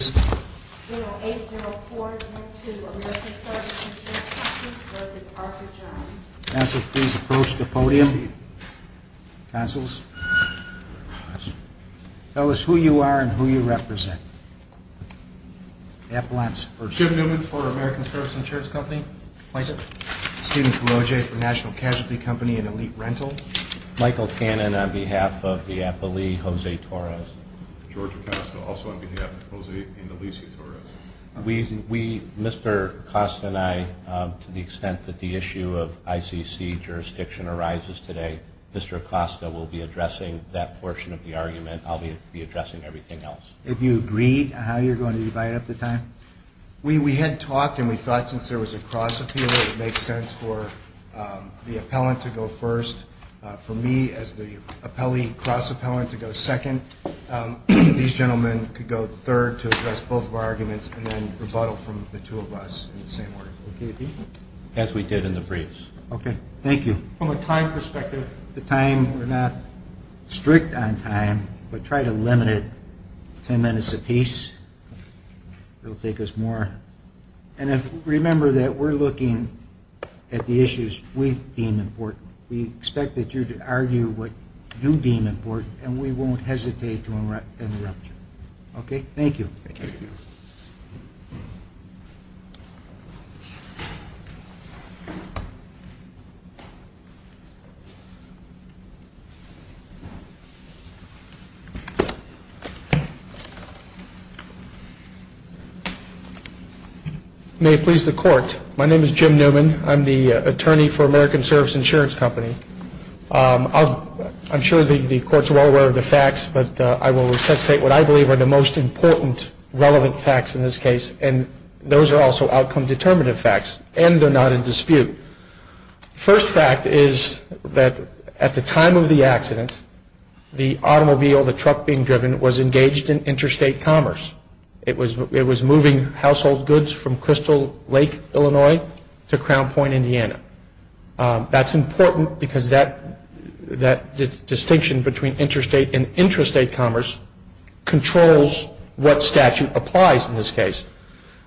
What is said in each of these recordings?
0804 to American Service Insurance Co. v. Parker, Jr. Counselors, please approach the podium. Counselors, tell us who you are and who you represent. Appellants, first. Jim Newman, for American Service Insurance Company. My sir. Steven Carroje, for National Casualty Company and Elite Rental. Michael Cannon, on behalf of the appellee, Jose Torres. George Acosta, also on behalf of Jose and Elise Torres. We, Mr. Acosta and I, to the extent that the issue of ICC jurisdiction arises today, Mr. Acosta will be addressing that portion of the argument. I'll be addressing everything else. Have you agreed on how you're going to divide up the time? We had talked, and we thought since there was a cross-appeal, it would make sense for the appellant to go first. For me, as the cross-appellant, to go second. These gentlemen could go third to address both of our arguments and then rebuttal from the two of us in the same order. As we did in the briefs. Okay. Thank you. From a time perspective, the time, we're not strict on time, but try to limit it ten minutes apiece. It'll take us more. And remember that we're looking at the issues we deem important. We expect that you'd argue what you deem important, and we won't hesitate to interrupt you. Okay? Thank you. Thank you. May it please the court. My name is Jim Newman. I'm the attorney for American Service Insurance Company. I'm sure the courts are well aware of the facts, but I will resuscitate what I believe are the most important relevant facts in this case, and those are also outcome-determinative facts, and they're not in dispute. First fact is that at the time of the accident, the automobile, the truck being driven, was engaged in interstate commerce. It was moving household goods from Crystal Lake, Illinois, to Crown Point, Indiana. That's important because that distinction between interstate and intrastate commerce controls what statute applies in this case.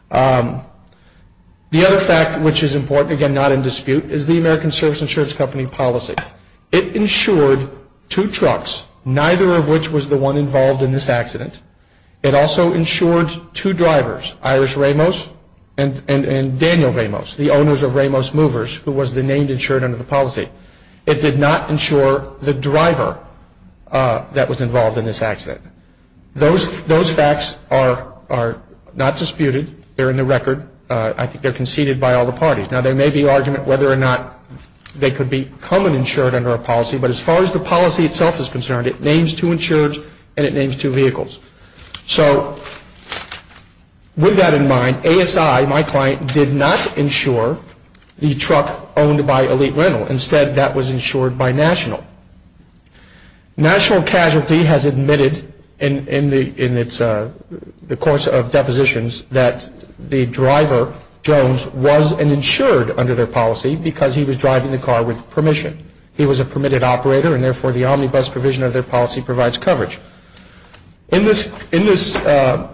The other fact which is important, again, not in dispute, is the American Service Insurance Company policy. It insured two trucks, neither of which was the one involved in this accident. It also insured two drivers, Iris Ramos and Daniel Ramos, the owners of Ramos Movers, who was the named insured under the policy. It did not insure the driver that was involved in this accident. Those facts are not disputed. They're in the record. They're conceded by all the parties. Now, there may be argument whether or not they could become an insured under a policy, but as far as the policy itself is concerned, it names two insureds and it names two vehicles. So we got in mind, ASI, my client, did not insure the truck owned by Elite Rental. Instead, that was insured by National. National Casualty has admitted in the course of depositions that the driver, Jones, was an insured under their policy because he was driving the car with permission. He was a permitted operator, and therefore the omnibus provision of their policy provides coverage. In this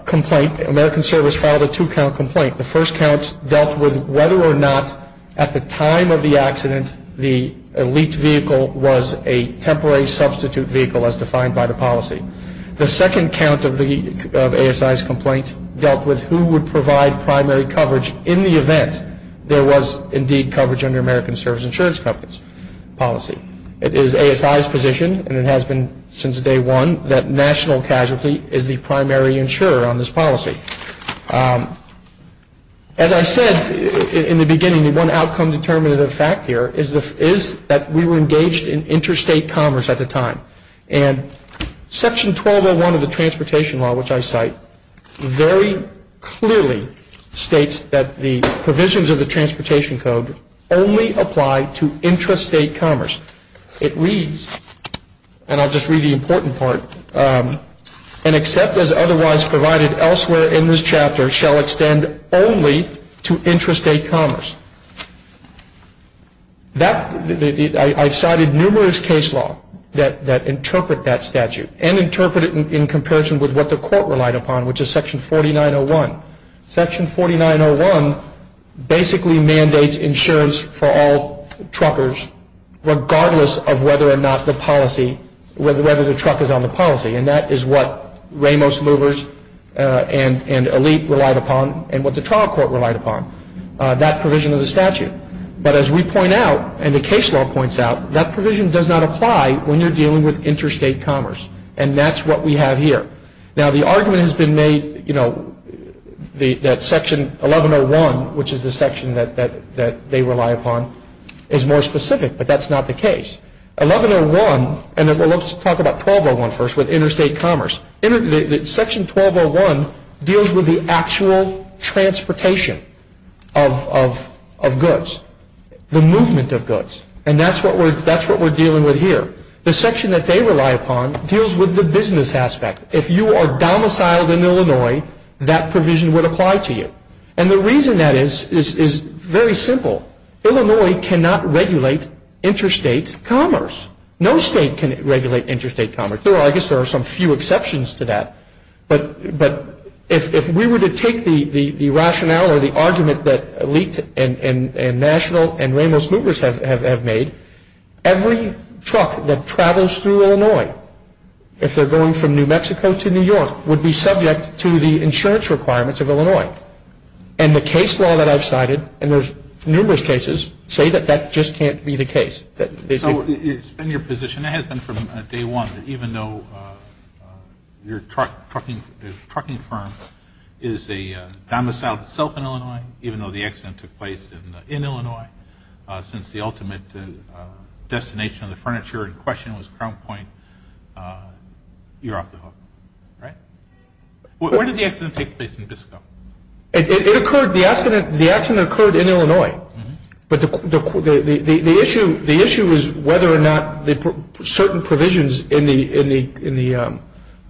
complaint, American Service filed a two-count complaint. The first count dealt with whether or not, at the time of the accident, the Elite vehicle was a temporary substitute vehicle as defined by the policy. The second count of ASI's complaint dealt with who would provide primary coverage in the event there was, indeed, coverage under American Service insurance policy. It is ASI's position, and it has been since day one, that National Casualty is the primary insurer on this policy. As I said in the beginning, the one outcome-determinative fact here is that we were engaged in interstate commerce at the time. And Section 1201 of the Transportation Law, which I cite, very clearly states that the provisions of the Transportation Code only apply to intrastate commerce. It reads, and I'll just read the important part, and except as otherwise provided elsewhere in this chapter shall extend only to intrastate commerce. I've cited numerous case law that interpret that statute and interpret it in comparison with what the court relied upon, which is Section 4901. Section 4901 basically mandates insurance for all truckers, regardless of whether or not the truck is on the policy. And that is what Ramos Movers and Elite relied upon and what the trial court relied upon. That provision of the statute. But as we point out, and the case law points out, that provision does not apply when you're dealing with interstate commerce. And that's what we have here. Now, the argument has been made that Section 1101, which is the section that they rely upon, is more specific, but that's not the case. 1101, and let's talk about 1201 first with interstate commerce. Section 1201 deals with the actual transportation of goods, the movement of goods, and that's what we're dealing with here. The section that they rely upon deals with the business aspect. If you are domiciled in Illinois, that provision would apply to you. And the reason that is is very simple. Illinois cannot regulate interstate commerce. No state can regulate interstate commerce. And I guess there are some few exceptions to that. But if we were to take the rationale or the argument that Elite and National and Ramos Movers have made, every truck that travels through Illinois, if they're going from New Mexico to New York, would be subject to the insurance requirements of Illinois. And the case law that I've cited, and there's numerous cases, say that that just can't be the case. So it's been your position, it has been from day one, that even though your trucking firm is a domiciled itself in Illinois, even though the accident took place in Illinois, since the ultimate destination of the furniture in question was Crown Point, you're out the hook. Right? Where did the accident take place in Disco? The accident occurred in Illinois. But the issue is whether or not certain provisions in the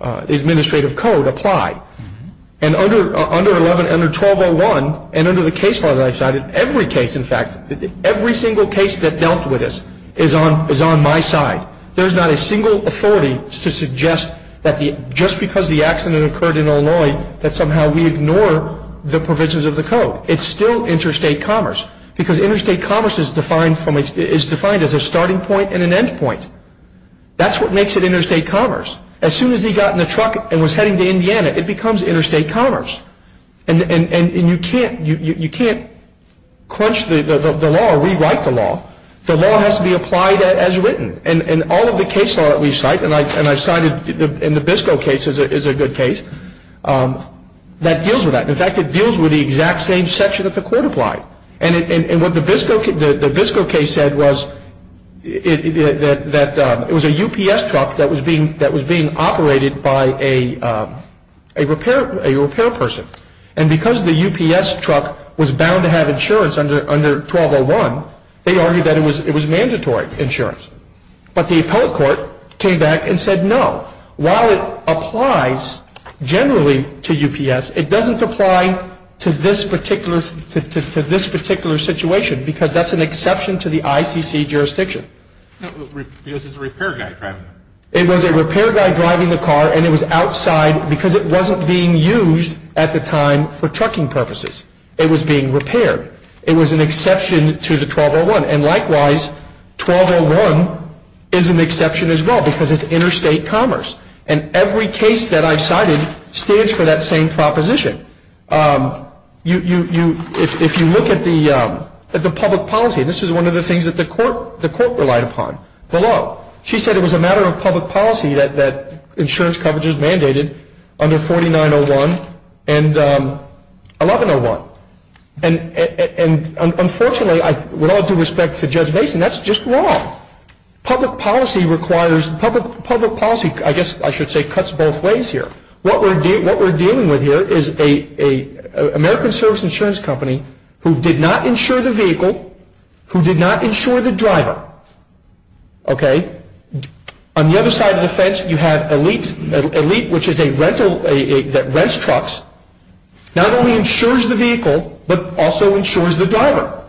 administrative code apply. And under 1201 and under the case law that I cited, every case, in fact, every single case that dealt with this is on my side. There's not a single authority to suggest that just because the accident occurred in Illinois, that somehow we ignore the provisions of the code. It's still interstate commerce. Because interstate commerce is defined as a starting point and an end point. That's what makes it interstate commerce. As soon as he got in the truck and was heading to Indiana, it becomes interstate commerce. And you can't crunch the law or rewrite the law. The law has to be applied as written. And all of the case law that we cite, and I cited in the Disco case is a good case, that deals with that. And what the Disco case said was that it was a UPS truck that was being operated by a repair person. And because the UPS truck was bound to have insurance under 1201, they argued that it was mandatory insurance. But the appellate court came back and said no. While it applies generally to UPS, it doesn't apply to this particular situation because that's an exception to the ICC jurisdiction. Because it's a repair guy driving it. It was a repair guy driving the car, and it was outside because it wasn't being used at the time for trucking purposes. It was being repaired. It was an exception to the 1201. And likewise, 1201 is an exception as well because it's interstate commerce. And every case that I've cited stands for that same proposition. If you look at the public policy, this is one of the things that the court relied upon below. She said it was a matter of public policy that insurance coverage is mandated under 4901 and 1101. And unfortunately, with all due respect to Judge Mason, that's just wrong. Public policy, I guess I should say, cuts both ways here. What we're dealing with here is an American Service Insurance Company who did not insure the vehicle, who did not insure the driver. Okay? On the other side of the fence, you have Elite, which is a rental that rents trucks. Not only insures the vehicle, but also insures the driver.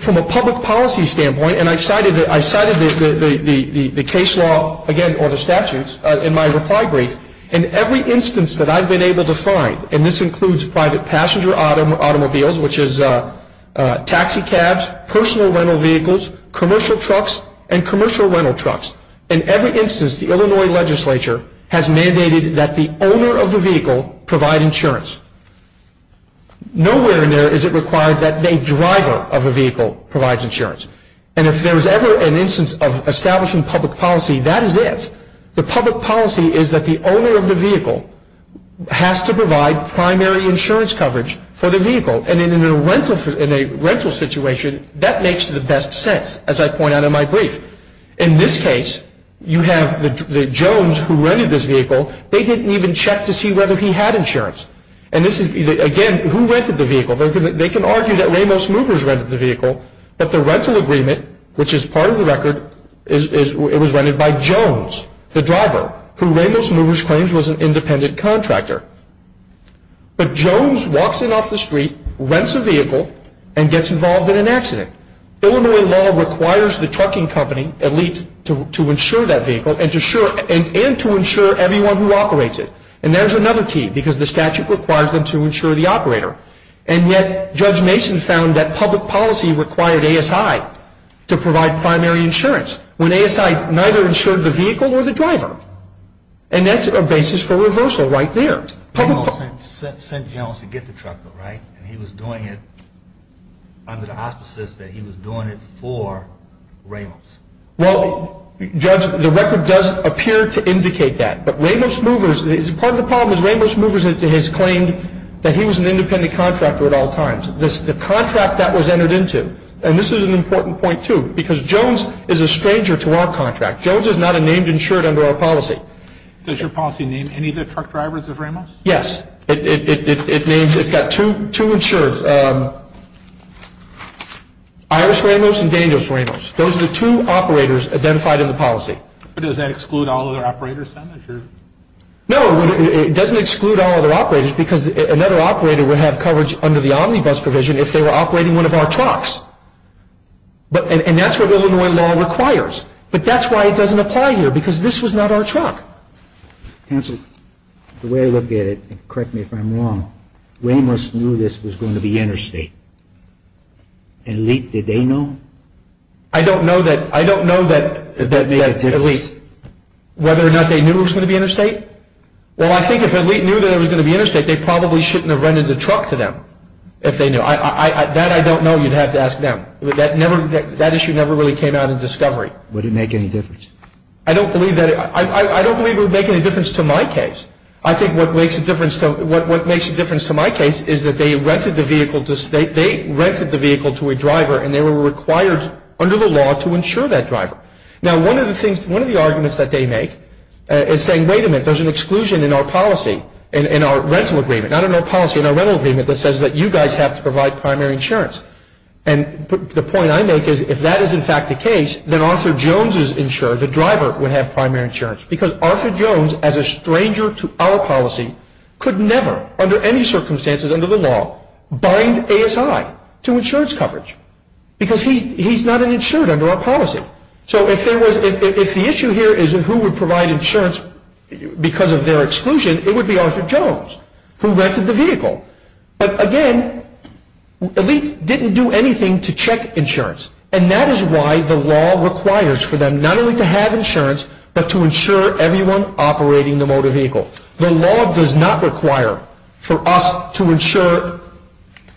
From a public policy standpoint, and I cited the case law, again, or the statutes in my reply brief, in every instance that I've been able to find, and this includes private passenger automobiles, which is taxi cabs, personal rental vehicles, commercial trucks, and commercial rental trucks, in every instance the Illinois legislature has mandated that the owner of the vehicle provide insurance. Nowhere in there is it required that the driver of a vehicle provides insurance. And if there's ever an instance of establishing public policy, that is it. The public policy is that the owner of the vehicle has to provide primary insurance coverage for the vehicle. And in a rental situation, that makes the best sense, as I point out in my brief. In this case, you have the Jones who rented this vehicle. They didn't even check to see whether he had insurance. And this is, again, who rented the vehicle? They can argue that Ramos Movers rented the vehicle, but the rental agreement, which is part of the record, it was rented by Jones, the driver, who Ramos Movers claims was an independent contractor. But Jones walks in off the street, rents a vehicle, and gets involved in an accident. Illinois law requires the trucking company, at least, to insure that vehicle and to insure everyone who operates it. And there's another key, because the statute requires them to insure the operator. And yet, Judge Mason found that public policy required ASI to provide primary insurance, when ASI neither insured the vehicle or the driver. And that's a basis for reversal right there. Ramos sent Jones to get the truck though, right? And he was doing it under the auspices that he was doing it for Ramos. Well, Judge, the record does appear to indicate that. But Ramos Movers, part of the problem is Ramos Movers has claimed that he was an independent contractor at all times. The contract that was entered into, and this is an important point too, because Jones is a stranger to our contract. Jones is not a named insured under our policy. Does your policy name any of the truck drivers of Ramos? Yes. It names two insureds, Iris Ramos and Daniel Ramos. Those are the two operators identified in the policy. Does that exclude all other operators then? No, it doesn't exclude all other operators, because another operator would have coverage under the Omnibus provision if they were operating one of our trucks. And that's what Illinois law requires. But that's why it doesn't apply here, because this was not our truck. Hanson, the way I look at it, and correct me if I'm wrong, Ramos knew this was going to be interstate. And Leet, did they know? I don't know that Leet, whether or not they knew it was going to be interstate. Well, I think if Leet knew it was going to be interstate, they probably shouldn't have rented the truck to them, if they knew. That I don't know. You'd have to ask them. That issue never really came out of discovery. Would it make any difference? I don't believe it would make any difference to my case. I think what makes a difference to my case is that they rented the vehicle to a driver, and they were required under the law to insure that driver. Now, one of the arguments that they make is saying, wait a minute, there's an exclusion in our policy, in our rental agreement, not in our policy, in our rental agreement, that says that you guys have to provide primary insurance. And the point I make is, if that is in fact the case, then Arthur Jones's insurer, the driver, would have primary insurance. Because Arthur Jones, as a stranger to our policy, could never, under any circumstances under the law, bind ASI to insurance coverage. Because he's not an insurer under our policy. So if the issue here is who would provide insurance because of their exclusion, it would be Arthur Jones, who rented the vehicle. But again, Elite didn't do anything to check insurance. And that is why the law requires for them not only to have insurance, but to insure everyone operating the motor vehicle. The law does not require for us to insure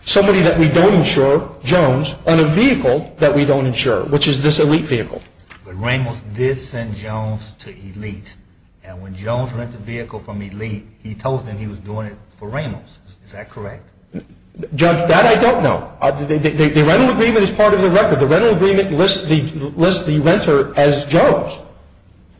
somebody that we don't insure, Jones, on a vehicle that we don't insure, which is this Elite vehicle. But Reynolds did send Jones to Elite. And when Jones rented the vehicle from Elite, he told them he was doing it for Reynolds. Is that correct? That I don't know. The rental agreement is part of the record. The rental agreement lists the renter as Jones.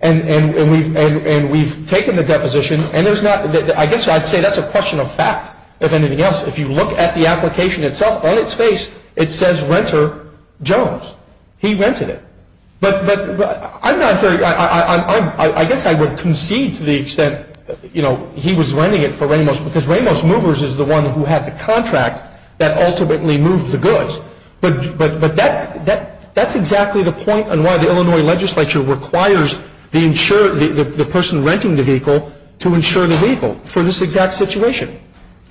And we've taken the deposition. And I guess I'd say that's a question of fact, if anything else. If you look at the application itself, on its face, it says renter Jones. He rented it. But I guess I would concede to the extent, you know, he was renting it for Reynolds because Reynolds Movers is the one who had the contract that ultimately moved the goods. But that's exactly the point on why the Illinois legislature requires the person renting the vehicle to insure the vehicle for this exact situation. Can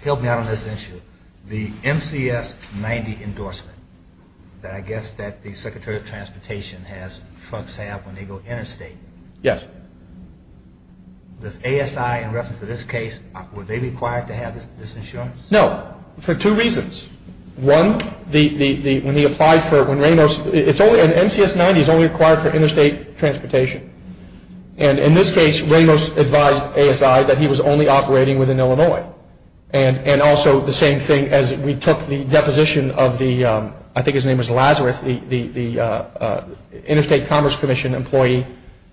you help me out on this issue? The MCS-90 endorsement that I guess that the Secretary of Transportation has trucks have when they go interstate. Yes. With ASI in reference to this case, were they required to have this insurance? No, for two reasons. One, when he applied for it, when Reynolds – MCS-90 is only required for interstate transportation. And in this case, Reynolds advised ASI that he was only operating within Illinois. And also the same thing as we took the deposition of the – I think his name was Lazarus, the Interstate Commerce Commission employee.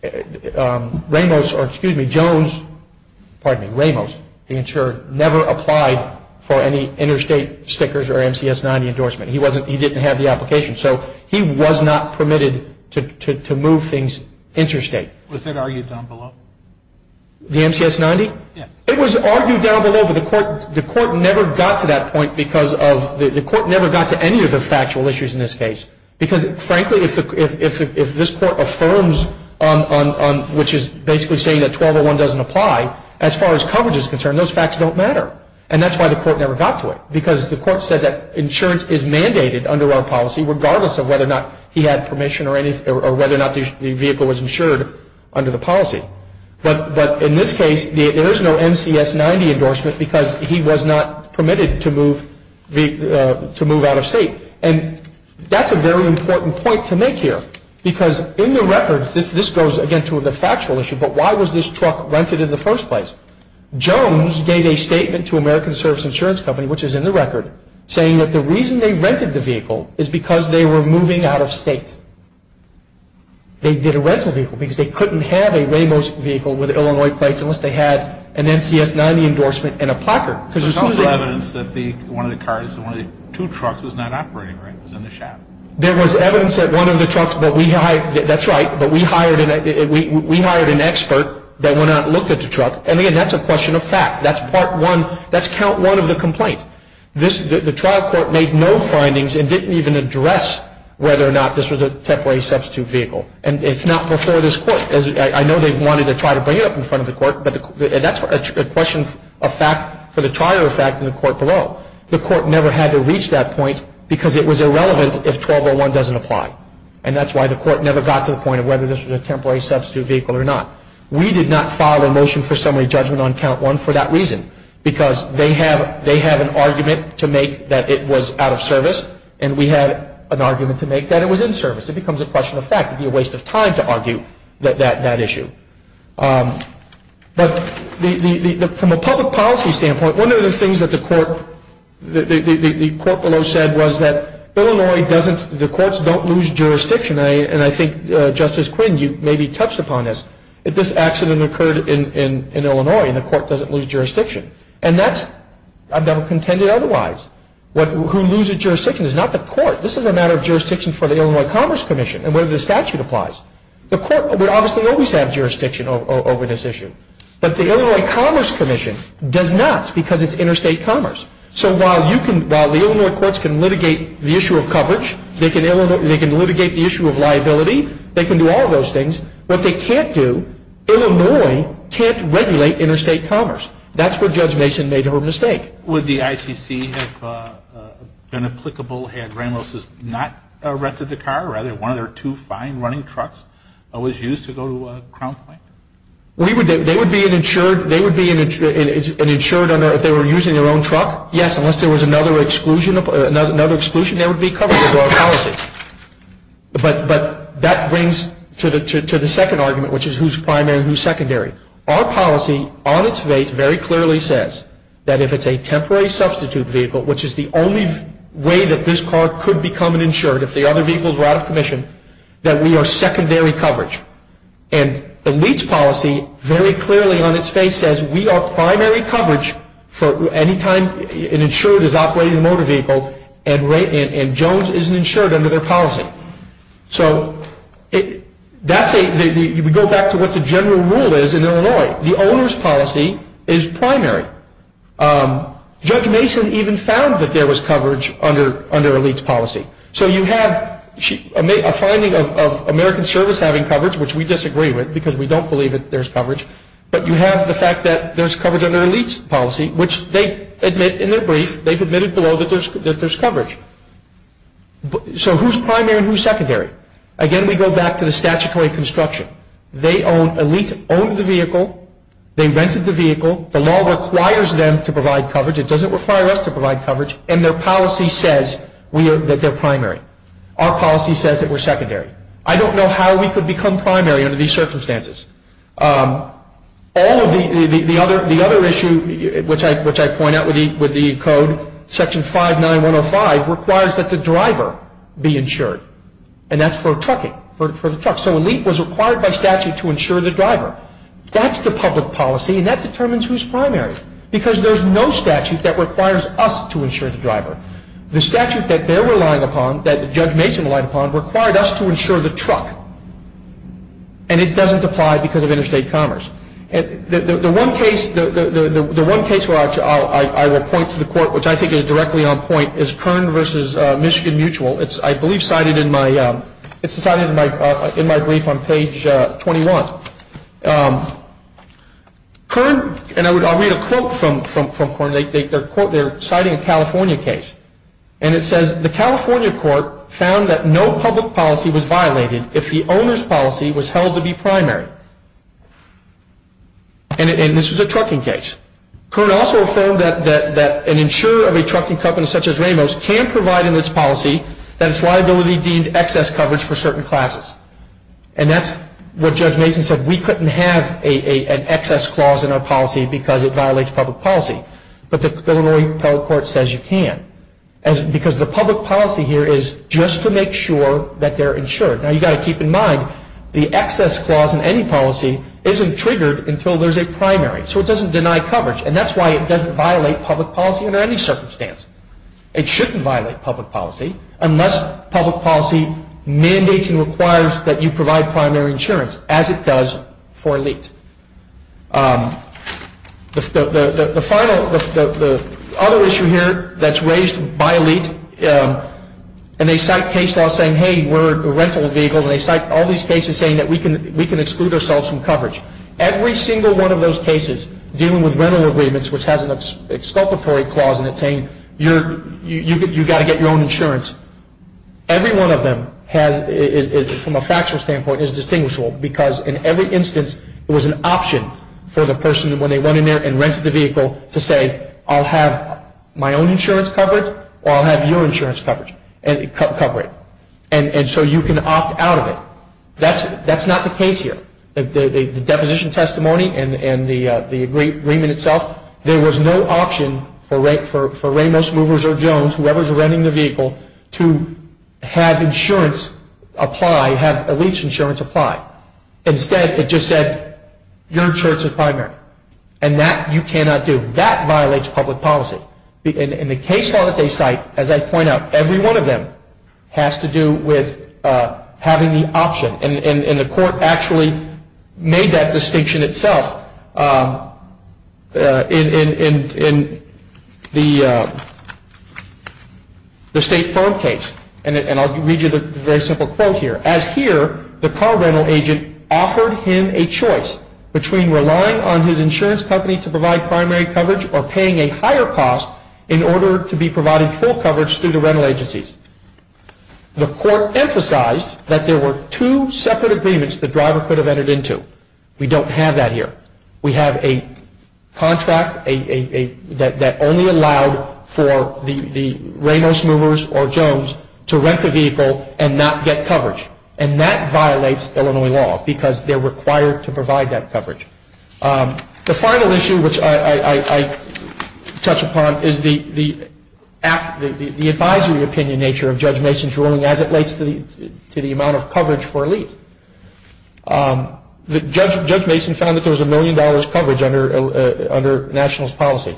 Reynolds – or excuse me, Jones – pardon me, Reynolds, the insurer, never applied for any interstate stickers or MCS-90 endorsement. He didn't have the application. So he was not permitted to move things interstate. Was it argued down below? The MCS-90? Yes. It was argued down below, but the court never got to that point because of – the court never got to any of the factual issues in this case. Because frankly, if this court affirms on – which is basically saying that 1201 doesn't apply, as far as coverage is concerned, those facts don't matter. And that's why the court never got to it, because the court said that insurance is mandated under our policy, regardless of whether or not he had permission or whether or not the vehicle was insured under the policy. But in this case, there is no MCS-90 endorsement because he was not permitted to move out of state. And that's a very important point to make here, because in the records – this goes, again, to the factual issue, but why was this truck rented in the first place? Jones gave a statement to American Service Insurance Company, which is in the record, saying that the reason they rented the vehicle is because they were moving out of state. They didn't rent the vehicle because they couldn't have a Ramos vehicle with Illinois plates unless they had an MCS-90 endorsement and a placard. There's also evidence that one of the cars – one of the two trucks was not operating, right? It was in the shaft. There was evidence that one of the trucks – that's right, but we hired an expert that went out and looked at the truck. And, again, that's a question of fact. That's part one. That's count one of the complaint. The trial court made no findings and didn't even address whether or not this was a temporary substitute vehicle. And it's not before this court. I know they wanted to try to bring it up in front of the court, but that's a question of fact for the trial of fact in the court below. The court never had to reach that point because it was irrelevant if 1201 doesn't apply. And that's why the court never got to the point of whether this was a temporary substitute vehicle or not. We did not file a motion for summary judgment on count one for that reason because they had an argument to make that it was out of service, and we had an argument to make that it was in service. It becomes a question of fact. It would be a waste of time to argue that issue. But from a public policy standpoint, one of the things that the court below said was that Illinois doesn't – the courts don't lose jurisdiction. And I think, Justice Quinn, you maybe touched upon this. If this accident occurred in Illinois, the court doesn't lose jurisdiction. And that's – I've never contended otherwise. Who loses jurisdiction is not the court. This is a matter of jurisdiction for the Illinois Commerce Commission and whether the statute applies. The court would obviously always have jurisdiction over this issue. But the Illinois Commerce Commission does not because it's interstate commerce. So while you can – while the Illinois courts can litigate the issue of coverage, they can litigate the issue of liability. They can do all of those things. What they can't do, Illinois can't regulate interstate commerce. That's where Judge Mason made her mistake. Would the ICC have been applicable had Grand Los not erected the car, rather, one of their two fine running trucks that was used to go to Crown Point? They would be an insured – they would be an insured if they were using their own truck? Yes, unless there was another exclusion, there would be coverage to our policies. But that brings to the second argument, which is who's primary and who's secondary. Our policy on its way very clearly says that if it's a temporary substitute vehicle, which is the only way that this car could become an insured if the other vehicles were out of commission, that we are secondary coverage. And the Leeds policy very clearly on its face says we are primary coverage for any time an insured is operating a motor vehicle and Jones isn't insured under their policy. So that's a – we go back to what the general rule is in Illinois. The owner's policy is primary. Judge Mason even found that there was coverage under a Leeds policy. So you have a finding of American Service having coverage, which we disagree with because we don't believe that there's coverage, but you have the fact that there's coverage under a Leeds policy, which they admit in their brief, they've admitted below that there's coverage. So who's primary and who's secondary? Again, we go back to the statutory construction. They own – a Leeds owned the vehicle, they rented the vehicle, the law requires them to provide coverage, it doesn't require us to provide coverage, and their policy says that they're primary. Our policy says that we're secondary. I don't know how we could become primary under these circumstances. All of the other issue, which I point out with the code, section 59105 requires that the driver be insured, and that's for trucking, for the truck. So a Leed was required by statute to insure the driver. That's the public policy and that determines who's primary because there's no statute that requires us to insure the driver. The statute that they're relying upon, that Judge Mason relied upon, required us to insure the truck, and it doesn't apply because of interstate commerce. The one case where I will point to the court, which I think is directly on point, is Kern versus Michigan Mutual. It's, I believe, cited in my brief on page 21. Kern, and I'll read a quote from Kern. They're citing a California case, and it says, the California court found that no public policy was violated if the owner's policy was held to be primary. And this was a trucking case. Kern also affirmed that an insurer of a trucking company such as Ramos can provide in its policy that its liability deemed excess coverage for certain classes, and that's what Judge Mason said. We couldn't have an excess clause in our policy because it violates public policy, but the federal court says you can because the public policy here is just to make sure that they're insured. Now, you've got to keep in mind, the excess clause in any policy isn't triggered until there's a primary, so it doesn't deny coverage, and that's why it doesn't violate public policy under any circumstance. It shouldn't violate public policy unless public policy mandates and requires that you provide primary insurance, as it does for LEAP. The final, the other issue here that's raised by LEAP, and they cite cases saying, hey, we're a rental vehicle, and they cite all these cases saying that we can exclude ourselves from coverage. Every single one of those cases dealing with rental agreements, which has an exculpatory clause in it saying you've got to get your own insurance, every one of them has, from a factual standpoint, is distinguishable because in every instance it was an option for the person when they went in there and rented the vehicle to say I'll have my own insurance coverage or I'll have your insurance coverage and cover it, and so you can opt out of it. That's not the case here. The deposition testimony and the agreement itself, there was no option for Ramos, Movers, or Jones, whoever's renting the vehicle, to have insurance apply, have LEAP's insurance apply. Instead it just said your insurance is primary, and that you cannot do. That violates public policy. In the case file that they cite, as I point out, every one of them has to do with having the option, and the court actually made that distinction itself in the State Farm case, and I'll read you the very simple quote here. As here, the car rental agent offered him a choice between relying on his insurance company to provide primary coverage or paying a higher cost in order to be provided full coverage through the rental agencies. The court emphasized that there were two separate agreements the driver could have entered into. We don't have that here. We have a contract that only allowed for the Ramos, Movers, or Jones to rent the vehicle and not get coverage, and that violates Illinois law because they're required to provide that coverage. The final issue which I touch upon is the advisory opinion nature of Judge Mason's ruling as it relates to the amount of coverage for LEAP. Judge Mason found that there was a million dollars coverage under nationals policy,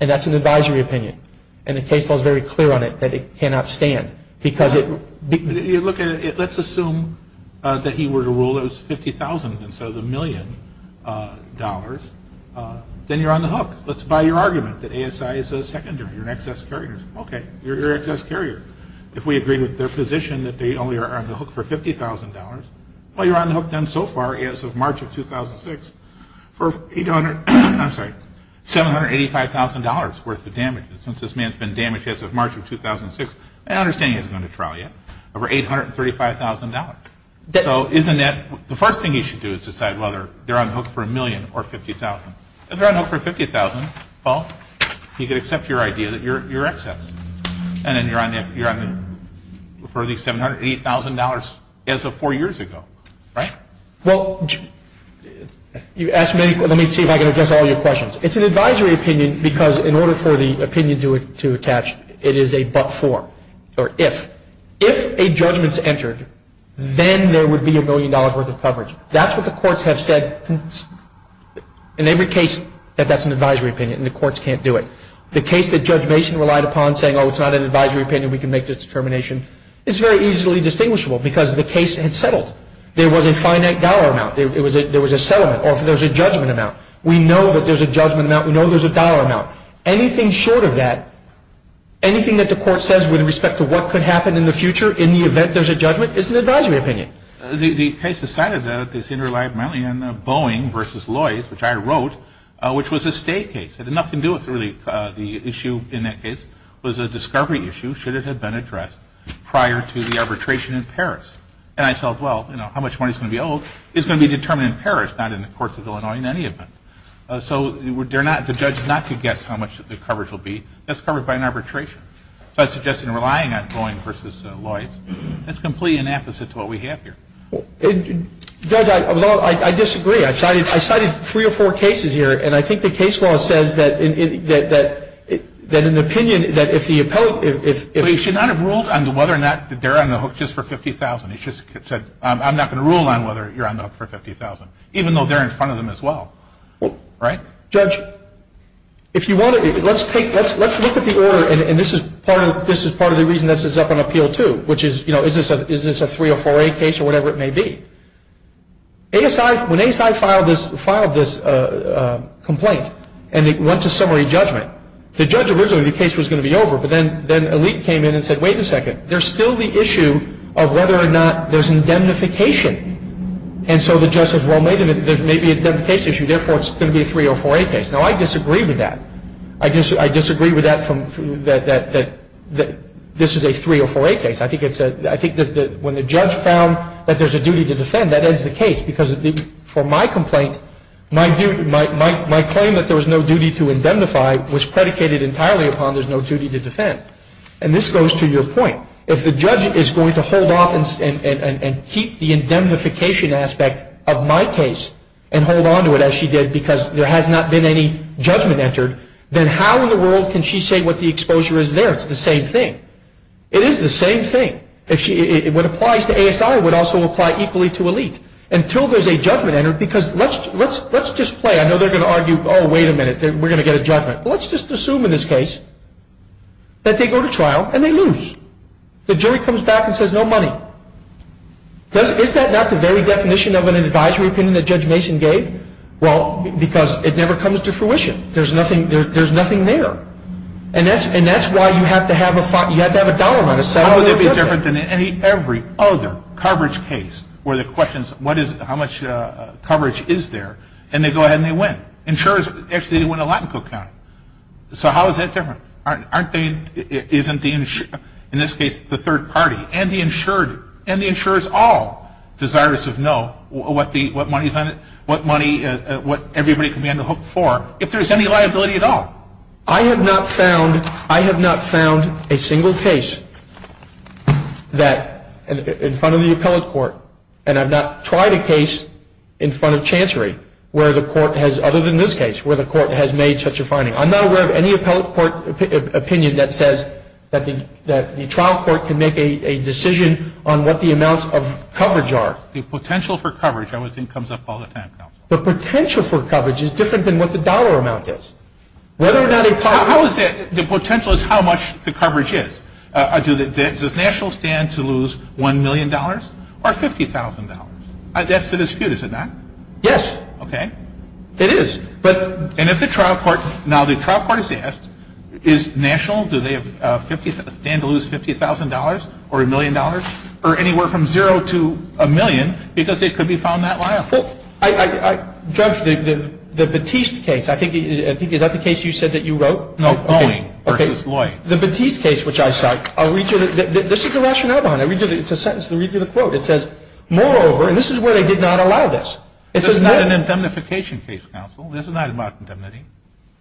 and that's an advisory opinion, and the case was very clear on it that it cannot stand. If you look at it, let's assume that he were to rule it was $50,000 instead of the million dollars, then you're on the hook. Let's buy your argument that ASI is a seconder. You're an excess carrier. Okay, you're an excess carrier. If we agree with their position that they only are on the hook for $50,000, well, you're on the hook then so far as of March of 2006 for $785,000 worth of damage. Since this man's been damaged as of March of 2006, I understand he hasn't gone to trial yet, over $835,000. So isn't that the first thing you should do is decide whether they're on the hook for a million or $50,000. If they're on the hook for $50,000, well, you can accept your idea that you're excess, and then you're on the hook for at least $780,000 as of four years ago, right? Well, you asked me, let me see if I can address all your questions. It's an advisory opinion because in order for the opinion to attach, it is a but-for, or if. If a judgment's entered, then there would be a million dollars worth of coverage. That's what the courts have said in every case that that's an advisory opinion, and the courts can't do it. The case that Judge Mason relied upon saying, oh, it's not an advisory opinion, we can make this determination, is very easily distinguishable because the case had settled. There was a finite dollar amount. There was a settlement, or there was a judgment amount. We know that there's a judgment amount. We know there's a dollar amount. Anything short of that, anything that the court says with respect to what could happen in the future, in the event there's a judgment, is an advisory opinion. The case is kind of this in-relied mountain of Boeing versus Lloyds, which I wrote, which was a state case. It had nothing to do with really the issue in that case. It was a discovery issue, should it have been addressed prior to the arbitration in Paris. And I thought, well, you know, how much money is going to be owed is going to be determined in Paris, not in the courts of Illinois in any event. So the judge is not to guess how much the coverage will be. That's covered by an arbitration. So I suggested relying on Boeing versus Lloyds. That's completely an opposite to what we have here. Judge, I disagree. I cited three or four cases here, and I think the case law says that an opinion that if the appellate – Well, you should not have ruled on whether or not they're on the hook just for $50,000. You should have said, I'm not going to rule on whether you're on the hook for $50,000, even though they're in front of them as well, right? Judge, if you want to – let's look at the order, and this is part of the reason this is up on appeal too, which is, you know, is this a three or four-A case or whatever it may be. When ASI filed this complaint and it went to summary judgment, the judge originally thought the case was going to be over, but then Elite came in and said, wait a second. There's still the issue of whether or not there's indemnification. And so the judge said, well, maybe it's an indemnification issue. Therefore, it's going to be a three or four-A case. Now, I disagree with that. I disagree with that, that this is a three or four-A case. I think that when the judge found that there's a duty to defend, that ends the case, because for my complaint, my claim that there was no duty to indemnify was predicated entirely upon there's no duty to defend. And this goes to your point. If the judge is going to hold off and keep the indemnification aspect of my case and hold onto it as she did because there has not been any judgment entered, then how in the world can she say what the exposure is there? It's the same thing. It is the same thing. What applies to ASI would also apply equally to Elite. Until there's a judgment entered, because let's just play. I know they're going to argue, oh, wait a minute, we're going to get a judgment. Let's just assume in this case that they go to trial and they lose. The jury comes back and says no money. Is that not the very definition of an advisory opinion that Judge Mason gave? Well, because it never comes to fruition. There's nothing there. And that's why you have to have a dollar on a side. Every other coverage case where the question is how much coverage is there, and they go ahead and they win. Insurers actually win a lot in Cook County. So how is that different? In this case, the third party and the insurer. And the insurer is all desirous of knowing what money everybody can be on the hook for, if there's any liability at all. I have not found a single case that, in front of the appellate court, and I've not tried a case in front of Chancery where the court has, other than this case, where the court has made such a finding. I'm not aware of any appellate court opinion that says that the trial court can make a decision on what the amounts of coverage are. The potential for coverage I would think comes up all the time. The potential for coverage is different than what the dollar amount is. The potential is how much the coverage is. Does National stand to lose $1 million or $50,000? That's the dispute, is it not? Yes. Okay. It is. And if the trial court is asked, is National, do they stand to lose $50,000 or $1 million or anywhere from zero to a million, because they could be found not liable. Judge, the Batiste case, is that the case you said that you wrote? No. The Batiste case, which I cite, this is the rationale behind it. It's a sentence that reads as a quote. It says, moreover, and this is where they did not allow this. This is not an indemnification case, counsel. This is not about indemnification.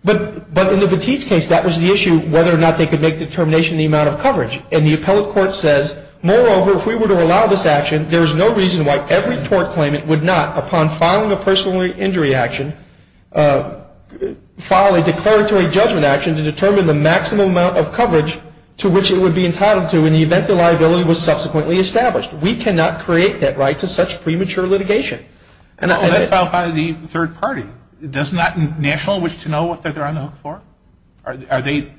But in the Batiste case, that was the issue, whether or not they could make a determination on the amount of coverage. And the appellate court says, moreover, if we were to allow this action, there's no reason why every court claimant would not, upon filing a personal injury action, file a declaratory judgment action to determine the maximum amount of coverage to which it would be entitled to in the event the liability was subsequently established. We cannot create that right to such premature litigation. And that's filed by the third party. Does National wish to know what they're on the hook for? Are they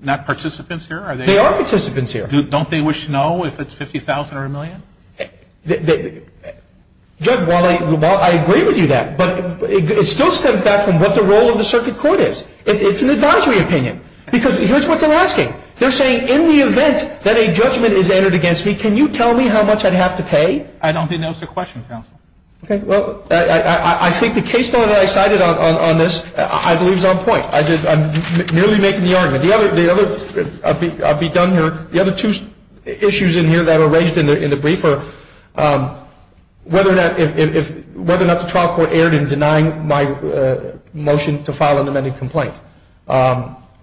not participants here? They are participants here. Don't they wish to know if it's $50,000 or a million? Judge, while I agree with you there, but it still stems back from what the role of the circuit court is. It's an advisory opinion. Because here's what they're asking. They're saying, in the event that a judgment is entered against me, can you tell me how much I have to pay? I don't think that was the question, counsel. Okay. Well, I think the case that I cited on this, I believe, is on point. I'm merely making the argument. I'll be done here. The other two issues in here that are raised in the briefer, whether or not the trial court erred in denying my motion to file an amended complaint.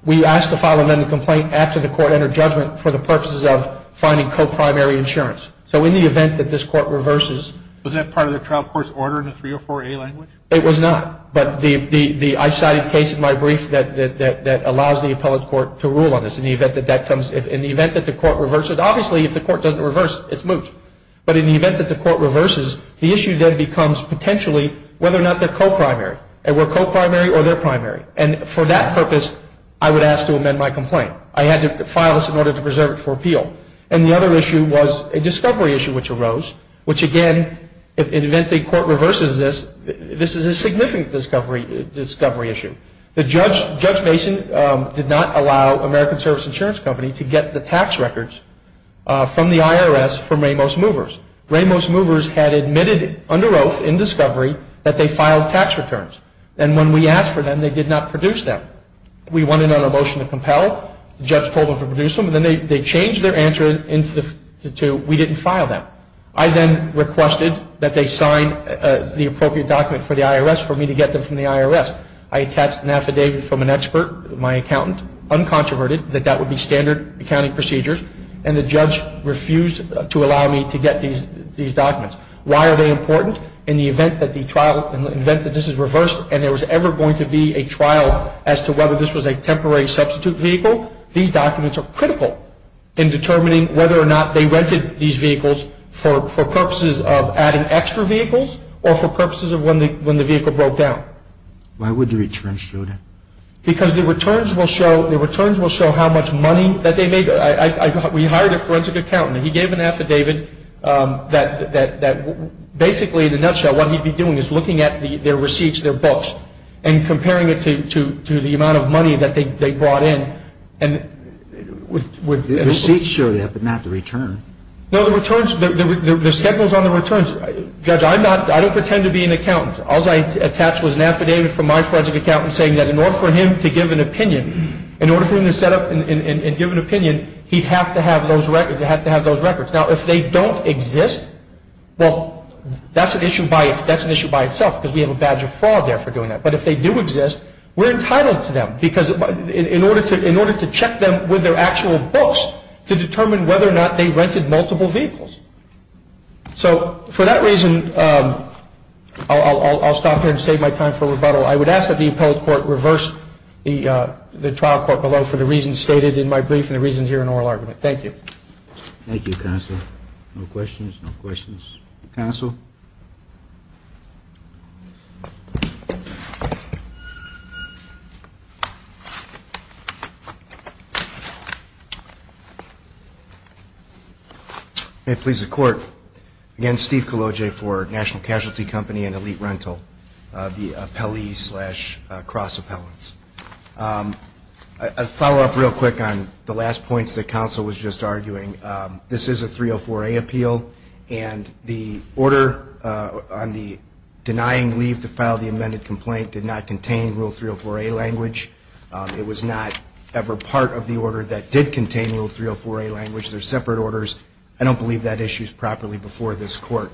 We asked to file an amended complaint after the court entered judgment for the purposes of finding co-primary insurance. So in the event that this court reverses. Wasn't that part of the trial court's order in the 304A language? It was not. I cited a case in my brief that allows the appellate court to rule on this. In the event that the court reverses. Obviously, if the court doesn't reverse, it's moot. But in the event that the court reverses, the issue then becomes potentially whether or not they're co-primary. And we're co-primary or they're primary. And for that purpose, I would ask to amend my complaint. I had to file this in order to preserve it for appeal. And the other issue was a discovery issue which arose, which again, in the event the court reverses this, this is a significant discovery issue. Judge Mason did not allow American Service Insurance Company to get the tax records from the IRS from Ramos Movers. Ramos Movers had admitted under oath in discovery that they filed tax returns. And when we asked for them, they did not produce them. We wanted on a motion to compel. The judge told them to produce them. Then they changed their answer to we didn't file them. I then requested that they sign the appropriate document for the IRS for me to get them from the IRS. I attached an affidavit from an expert, my accountant, uncontroverted, that that would be standard accounting procedures. And the judge refused to allow me to get these documents. Why are they important? In the event that this is reversed and there was ever going to be a trial as to whether this was a temporary substitute vehicle, these documents are critical in determining whether or not they rented these vehicles for purposes of adding extra vehicles or for purposes of when the vehicle broke down. Why would the returns show that? Because the returns will show how much money that they made. We hired a forensic accountant. He gave an affidavit that basically, in a nutshell, what he'd be doing is looking at their receipts, their bills, and comparing it to the amount of money that they brought in. The receipts show that, but not the returns. No, the schedules on the returns. Judge, I don't pretend to be an accountant. All I attached was an affidavit from my forensic accountant saying that in order for him to give an opinion, in order for him to set up and give an opinion, he'd have to have those records. Now, if they don't exist, well, that's an issue by itself because we have a badge of fraud there for doing that. But if they do exist, we're entitled to them because in order to check them with their actual books to determine whether or not they rented multiple vehicles. So, for that reason, I'll stop here and save my time for rebuttal. I would ask that the appellate court reverse the trial court below for the reasons stated in my brief and the reasons here in oral argument. Thank you. Thank you, Counselor. No questions? No questions? Counsel? Thank you. And please, the court. Again, Steve Cologe for National Casualty Company and Elite Rental, the appellee slash cross-appellants. A follow-up real quick on the last points that Counsel was just arguing. This is a 304A appeal, and the order on the denying leave to file the amended complaint did not contain Rule 304A language. It was not ever part of the order that did contain Rule 304A language. They're separate orders. I don't believe that issue is properly before this court.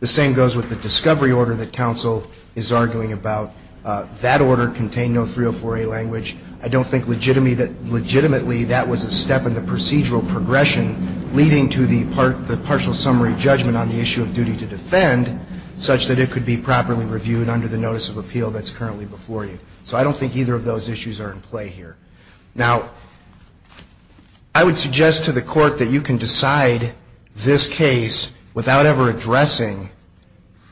The same goes with the discovery order that Counsel is arguing about. That order contained no 304A language. I don't think legitimately that was a step in the procedural progression leading to the partial summary judgment on the issue of duty to defend such that it could be properly reviewed under the notice of appeal that's currently before you. So I don't think either of those issues are in play here. Now, I would suggest to the court that you can decide this case without ever addressing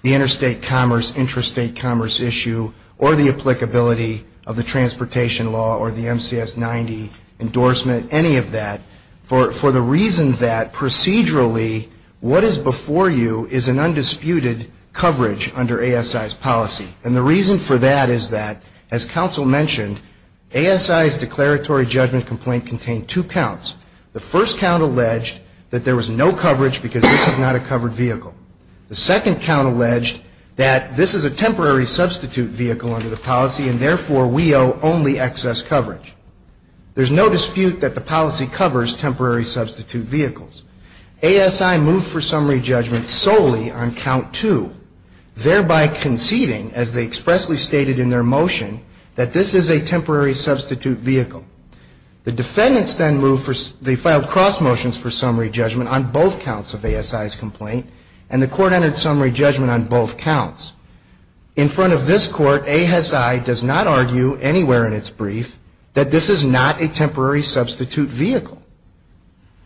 the interstate commerce, interstate commerce issue, or the applicability of the transportation law or the MCS 90 endorsement, any of that, for the reason that procedurally what is before you is an undisputed coverage under ASI's policy. And the reason for that is that, as Counsel mentioned, ASI's declaratory judgment complaint contained two counts. The first count alleged that there was no coverage because this is not a covered vehicle. The second count alleged that this is a temporary substitute vehicle under the policy, and therefore we owe only excess coverage. There's no dispute that the policy covers temporary substitute vehicles. ASI moved for summary judgment solely on count two, thereby conceding, as they expressly stated in their motion, that this is a temporary substitute vehicle. The defendants then moved for, they filed cross motions for summary judgment on both counts of ASI's complaint, and the court entered summary judgment on both counts. In front of this court, ASI does not argue anywhere in its brief that this is not a temporary substitute vehicle.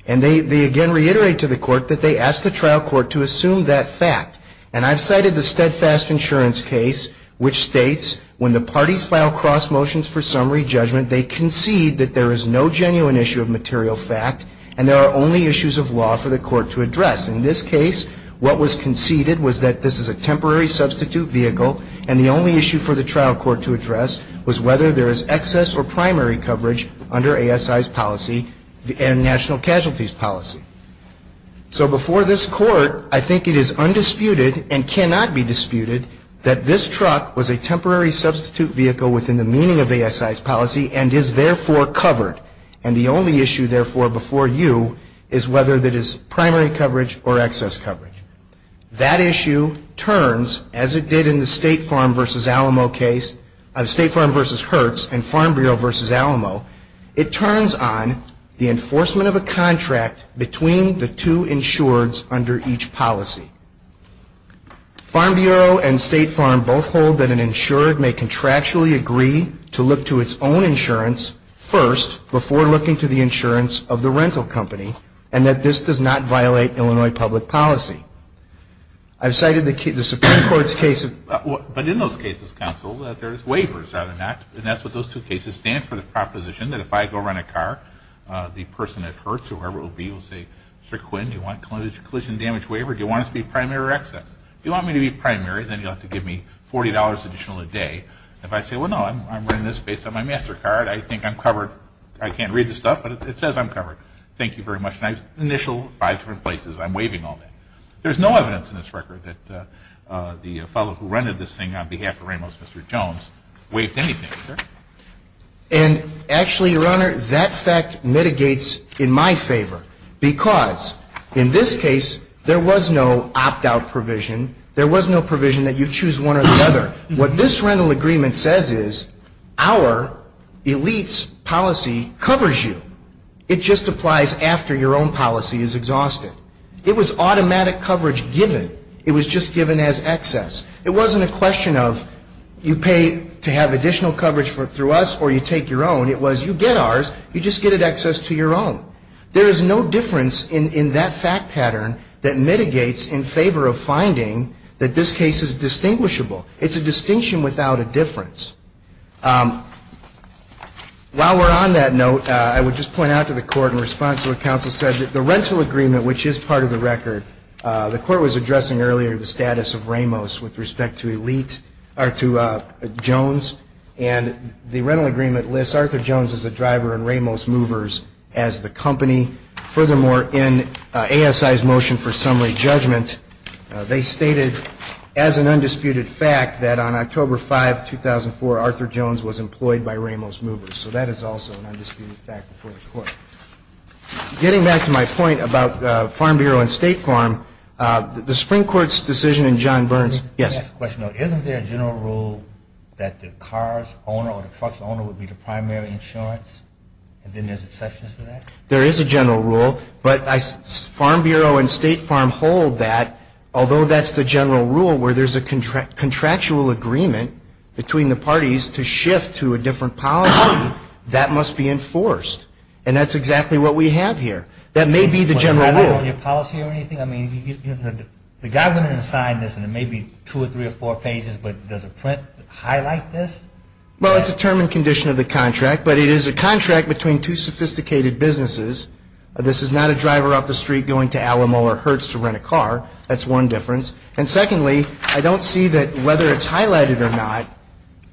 And they again reiterate to the court that they ask the trial court to assume that fact. And I've cited the steadfast insurance case, which states, when the parties file cross motions for summary judgment, they concede that there is no genuine issue of material fact, and there are only issues of law for the court to address. In this case, what was conceded was that this is a temporary substitute vehicle, and the only issue for the trial court to address was whether there is excess or primary coverage under ASI's policy and national casualties policy. So before this court, I think it is undisputed and cannot be disputed that this truck was a temporary substitute vehicle within the meaning of ASI's policy and is therefore covered. And the only issue, therefore, before you is whether there is primary coverage or excess coverage. That issue turns, as it did in the State Farm v. Hertz and Farm Bureau v. Alamo, it turns on the enforcement of a contract between the two insureds under each policy. Farm Bureau and State Farm both hold that an insured may contractually agree to look to its own insurance first before looking to the insurance of the rental company, and that this does not violate Illinois public policy. I've cited the Supreme Court's case of... But in those cases, counsel, there's waivers on that, and that's what those two cases stand for, the proposition that if I go rent a car, the person at Hertz or whoever it will be will say, Mr. Quinn, do you want collision damage waiver or do you want it to be primary or excess? If you want me to be primary, then you'll have to give me $40 additional a day. If I say, well, no, I'm renting this based on my MasterCard. I think I'm covered. I can't read the stuff, but it says I'm covered. Thank you very much. And I've initialed five different places. I'm waiving all that. There's no evidence in this record that the fellow who rented this thing on behalf of Reynolds, Mr. Jones, waived anything. And actually, Your Honor, that fact mitigates in my favor because in this case there was no opt-out provision. There was no provision that you choose one or the other. What this rental agreement says is our elite's policy covers you. It just applies after your own policy is exhausted. It was automatic coverage given. It was just given as excess. It wasn't a question of you pay to have additional coverage through us or you take your own. It was you get ours, you just get it excess to your own. There is no difference in that fact pattern that mitigates in favor of finding that this case is distinguishable. It's a distinction without a difference. While we're on that note, I would just point out to the Court in response to what counsel said, that the rental agreement, which is part of the record, the Court was addressing earlier the status of Ramos with respect to Jones. And the rental agreement lists Arthur Jones as the driver and Ramos Movers as the company. Furthermore, in ASI's motion for summary judgment, they stated as an undisputed fact that on October 5, 2004, Arthur Jones was employed by Ramos Movers. So that is also an undisputed fact before the Court. Getting back to my point about Farm Bureau and State Farm, the Supreme Court's decision in John Burns. Yes. Isn't there a general rule that the car's owner or the truck's owner would be the primary insurance? And then there's exceptions to that? There is a general rule, but Farm Bureau and State Farm hold that, although that's the general rule, where there's a contractual agreement between the parties to shift to a different policy, that must be enforced. And that's exactly what we have here. That may be the general rule. Is that on your policy or anything? I mean, the government assigned this, and it may be two or three or four pages, but does the print highlight this? Well, it's a term and condition of the contract, but it is a contract between two sophisticated businesses. This is not a driver up the street going to Alamo or Hertz to rent a car. That's one difference. And secondly, I don't see that whether it's highlighted or not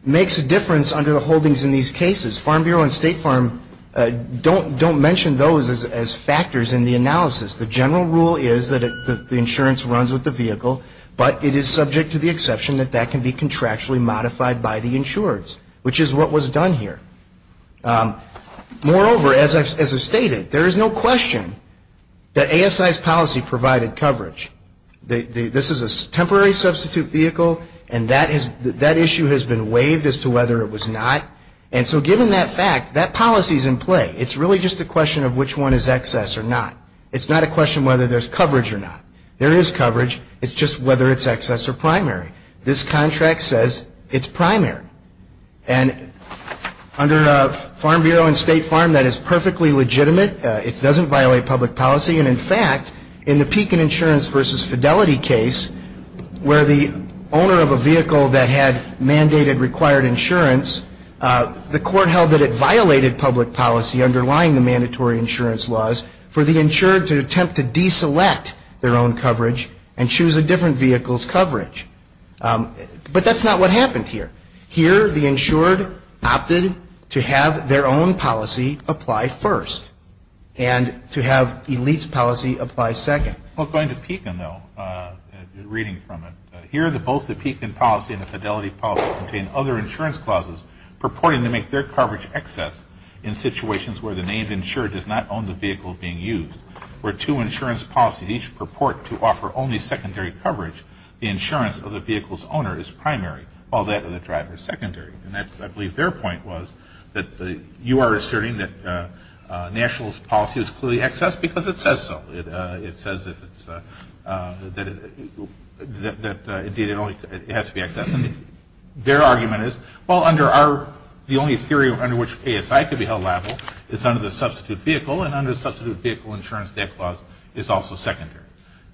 makes a difference under the holdings in these cases. Farm Bureau and State Farm don't mention those as factors in the analysis. But it is subject to the exception that that can be contractually modified by the insurers, which is what was done here. Moreover, as I stated, there is no question that ASI's policy provided coverage. This is a temporary substitute vehicle, and that issue has been waived as to whether it was not. And so given that fact, that policy is in play. It's really just a question of which one is excess or not. It's not a question of whether there's coverage or not. There is coverage. It's just whether it's excess or primary. This contract says it's primary. And under Farm Bureau and State Farm, that is perfectly legitimate. It doesn't violate public policy. And in fact, in the Pekin Insurance versus Fidelity case, where the owner of a vehicle that had mandated required insurance, the court held that it violated public policy underlying the mandatory insurance laws for the insured to attempt to deselect their own coverage and choose a different vehicle's coverage. But that's not what happened here. Here, the insured opted to have their own policy apply first and to have ELITE's policy apply second. I'll go into Pekin, though, reading from it. Here, both the Pekin policy and the Fidelity policy contain other insurance clauses purporting to make their coverage excess in situations where the named insured does not own the vehicle being used. Where two insurance policies each purport to offer only secondary coverage, the insurance of the vehicle's owner is primary while that of the driver is secondary. And I believe their point was that you are asserting that national policy is clearly excess because it says so. It says that it has to be excess. Their argument is, well, the only theory under which KSI could be held liable is under the substitute vehicle, and under the substitute vehicle insurance, that clause is also secondary.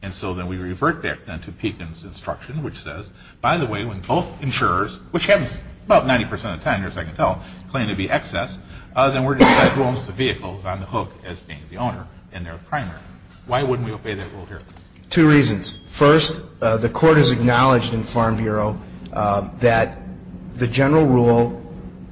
And so then we revert back then to Pekin's instruction, which says, by the way, when both insurers, which happens about 90% of the time, as I can tell, claim to be excess, then we're going to have to own the vehicle on the hook as being the owner and their primary. Why wouldn't we obey that rule here? Two reasons. First, the court has acknowledged in Farm Bureau that the general rule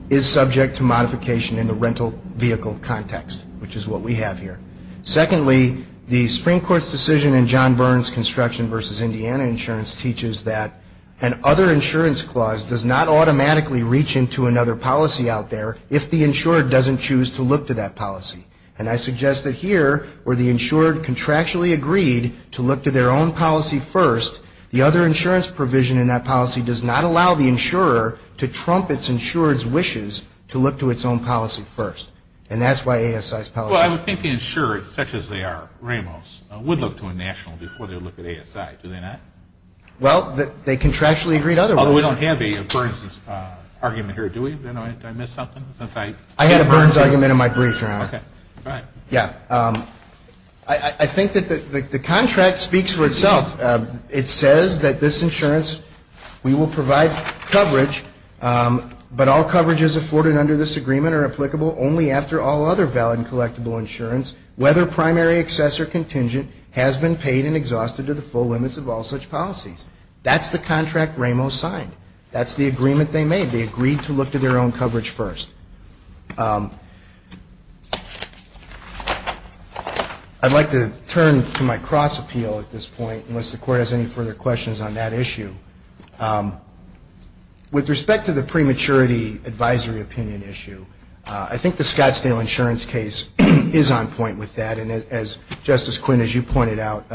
is subject to modification in the rental vehicle context, which is what we have here. Secondly, the Supreme Court's decision in John Burns' construction versus Indiana insurance teaches that an other insurance clause does not automatically reach into another policy out there if the insured doesn't choose to look to that policy. And I suggest that here, where the insured contractually agreed to look to their own policy first, the other insurance provision in that policy does not allow the insurer to trump its insurer's wishes to look to its own policy first. And that's why ASI's policy... Well, I would think the insured, such as they are rentals, would look to a national before they look at ASI. Do they not? Well, they contractually agreed otherwise. Although we don't have a Burns' argument here, do we? Did I miss something? I had a Burns' argument in my brief. I think that the contract speaks for itself. It says that this insurance, we will provide coverage, but all coverages afforded under this agreement are applicable only after all other valid and collectible insurance, whether primary, excess, or contingent, has been paid and exhausted to the full limits of all such policies. That's the contract Rameau signed. That's the agreement they made. So they agreed to look to their own coverage first. I'd like to turn to my cross-appeal at this point, unless the Court has any further questions on that issue. With respect to the prematurity advisory opinion issue, I think the Scottsdale insurance case is on point with that, and as Justice Quinn, as you pointed out,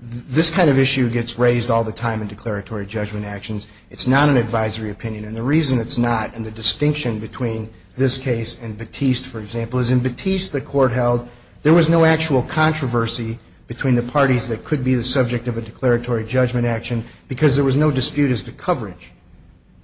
this kind of issue gets raised all the time in declaratory judgment actions. It's not an advisory opinion, and the reason it's not, and the distinction between this case and Batiste, for example, is in Batiste, the court held, there was no actual controversy between the parties that could be the subject of a declaratory judgment action because there was no dispute as to coverage.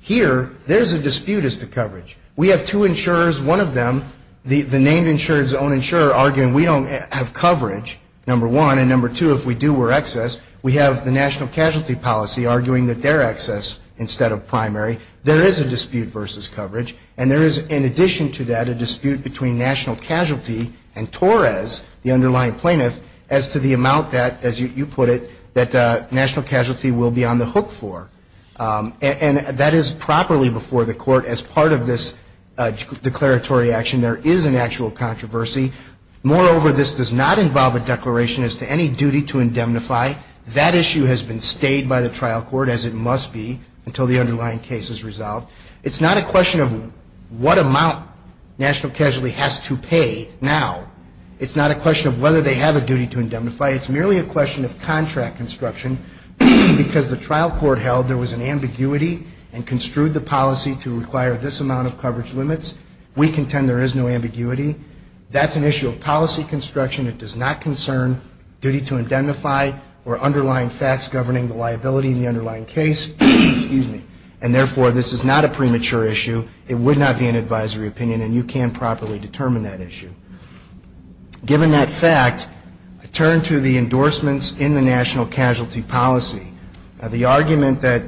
Here, there's a dispute as to coverage. We have two insurers, one of them, the named insurer's own insurer, arguing we don't have coverage, number one, and number two, if we do, we're excess. We have the national casualty policy arguing that they're excess instead of primary. There is a dispute versus coverage, and there is, in addition to that, a dispute between national casualty and Torres, the underlying plaintiff, as to the amount that, as you put it, that national casualty will be on the hook for. And that is properly before the court as part of this declaratory action. There is an actual controversy. Moreover, this does not involve a declaration as to any duty to indemnify. That issue has been stayed by the trial court as it must be until the underlying case is resolved. It's not a question of what amount national casualty has to pay now. It's not a question of whether they have a duty to indemnify. It's merely a question of contract instruction because the trial court held there was an ambiguity and construed the policy to require this amount of coverage limits. We contend there is no ambiguity. That's an issue of policy construction. It does not concern duty to indemnify or underlying facts governing the liability in the underlying case. And therefore, this is not a premature issue. It would not be an advisory opinion, and you can't properly determine that issue. Given that fact, turn to the endorsements in the national casualty policy. Now, the argument that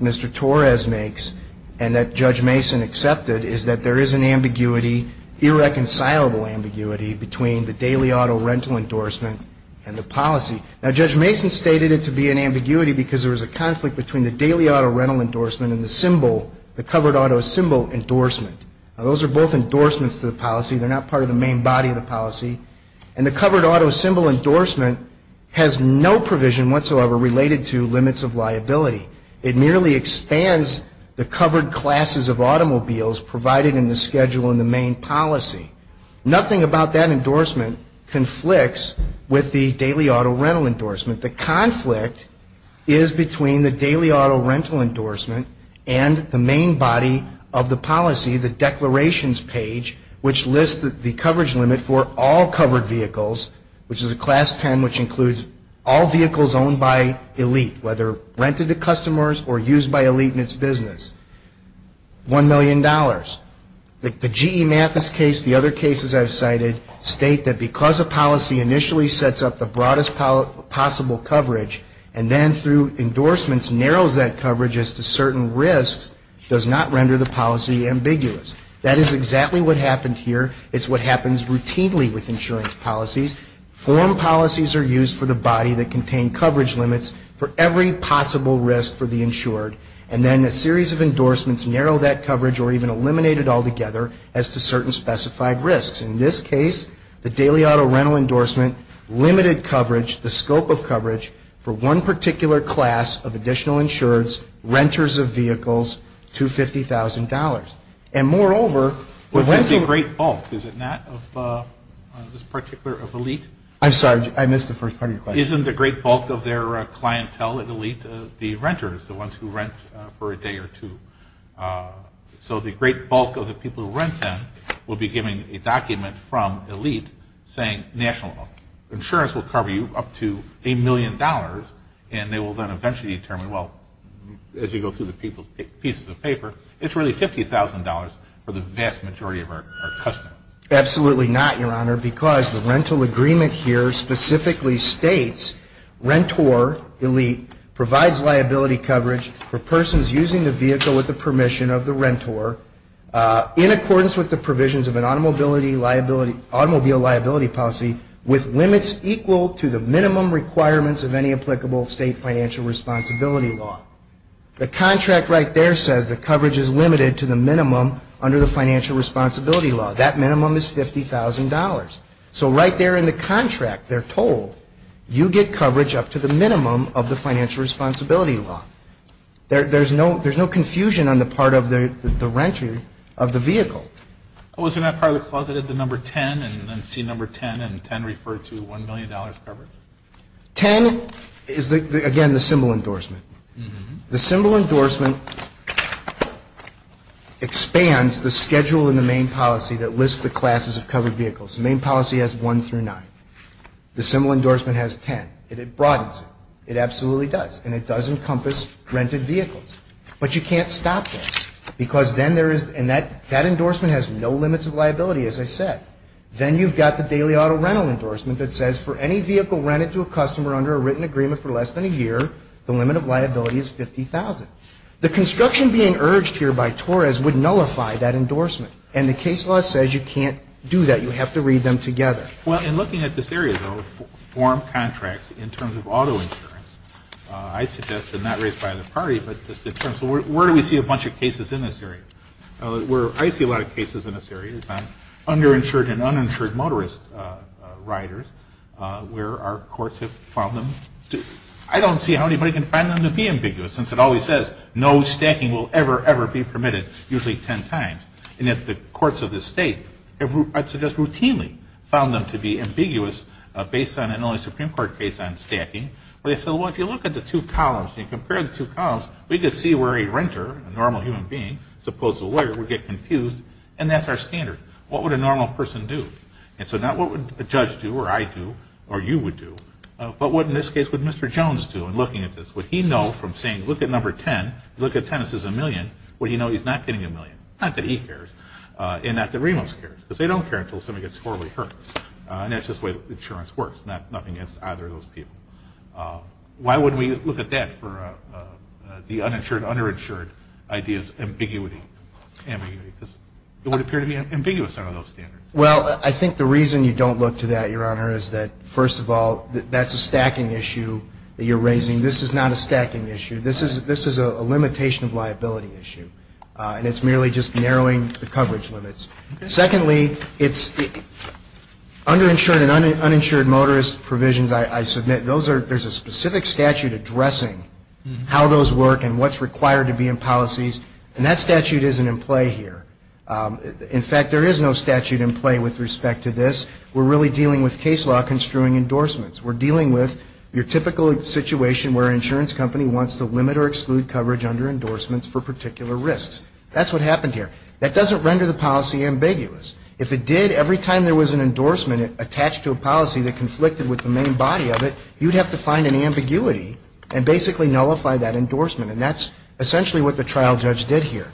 Mr. Torres makes and that Judge Mason accepted is that there is an ambiguity, irreconcilable ambiguity, between the daily auto rental endorsement and the policy. Now, Judge Mason stated it to be an ambiguity because there was a conflict between the daily auto rental endorsement and the covered auto symbol endorsement. Now, those are both endorsements to the policy. They're not part of the main body of the policy. And the covered auto symbol endorsement has no provision whatsoever related to limits of liability. It merely expands the covered classes of automobiles provided in the schedule in the main policy. Nothing about that endorsement conflicts with the daily auto rental endorsement. The conflict is between the daily auto rental endorsement and the main body of the policy, the declarations page, which lists the coverage limit for all covered vehicles, which is a class 10, which includes all vehicles owned by elite, whether rented to customers or used by elite in its business, $1 million. The GE Mathis case, the other cases I've cited, state that because a policy initially sets up the broadest possible coverage and then through endorsements narrows that coverage as to certain risks, does not render the policy ambiguous. That is exactly what happened here. It's what happens routinely with insurance policies. Form policies are used for the body that contain coverage limits for every possible risk for the insured. And then a series of endorsements narrow that coverage or even eliminate it altogether as to certain specified risks. In this case, the daily auto rental endorsement limited coverage, the scope of coverage for one particular class of additional insureds, renters of vehicles, to $50,000. And moreover... But that's a great bulk, is it not, of this particular elite? I'm sorry, I missed the first part of your question. Isn't the great bulk of their clientele elite the renters, the ones who rent for a day or two? So the great bulk of the people who rent then will be given a document from elite saying, National Bank, insurance will cover you up to a million dollars, and they will then eventually determine, well, as you go through the pieces of paper, it's really $50,000 for the vast majority of our customers. Absolutely not, Your Honor, because the rental agreement here specifically states, Rentor, elite, provides liability coverage for persons using the vehicle with the permission of the renter in accordance with the provisions of an automobile liability policy with limits equal to the minimum requirements of any applicable state financial responsibility law. The contract right there says the coverage is limited to the minimum under the financial responsibility law. That minimum is $50,000. $50,000. So right there in the contract, they're told, you get coverage up to the minimum of the financial responsibility law. There's no confusion on the part of the renter of the vehicle. Wasn't that part of the clause that had the number 10 and then see number 10 and 10 referred to $1 million coverage? 10 is, again, the symbol endorsement. The symbol endorsement expands the schedule in the main policy that lists the classes of covered vehicles. The main policy has 1 through 9. The symbol endorsement has 10, and it broadens it. It absolutely does, and it does encompass rented vehicles. But you can't stop this, because then there is, and that endorsement has no limits of liability, as I said. Then you've got the daily auto rental endorsement that says, for any vehicle rented to a customer under a written agreement for less than a year, the limit of liability is $50,000. The construction being urged here by Torres would nullify that endorsement, and the case law says you can't do that. You have to read them together. Well, in looking at this area, though, form contracts in terms of auto insurance, I suggest, and not raised by the party, but it's different. So where do we see a bunch of cases in this area? I see a lot of cases in this area on under-insured and uninsured motorist riders, where our courts have found them to be ambiguous, since it always says no stacking will ever, ever be permitted, usually 10 times. And if the courts of this state have routinely found them to be ambiguous, based on an only Supreme Court case on stacking, they say, well, if you look at the two columns and compare the two columns, we can see where a renter, a normal human being, supposed to be a lawyer, would get confused, and that's our standard. What would a normal person do? And so not what would a judge do, or I do, or you would do, but what, in this case, would Mr. Jones do in looking at this? Would he know from saying, look at number 10, look at 10, this is a million, would he know he's not getting a million? Not that he cares, and not that Reno cares, because they don't care until somebody gets horribly hurt. And that's just the way that insurance works. Nothing against either of those people. Why wouldn't we look at that for the uninsured, underinsured idea of ambiguity? It would appear to be ambiguous under those standards. Well, I think the reason you don't look to that, Your Honor, is that, first of all, that's a stacking issue that you're raising. This is not a stacking issue. This is a limitation of liability issue, and it's merely just narrowing the coverage limits. Secondly, underinsured and uninsured motorist provisions, I submit, there's a specific statute addressing how those work and what's required to be in policies, and that statute isn't in play here. In fact, there is no statute in play with respect to this. We're really dealing with case law construing endorsements. We're dealing with your typical situation where an insurance company wants to limit or exclude coverage under endorsements for particular risks. That's what happened here. That doesn't render the policy ambiguous. If it did, every time there was an endorsement attached to a policy that conflicted with the main body of it, you'd have to find an ambiguity and basically nullify that endorsement, and that's essentially what the trial judge did here.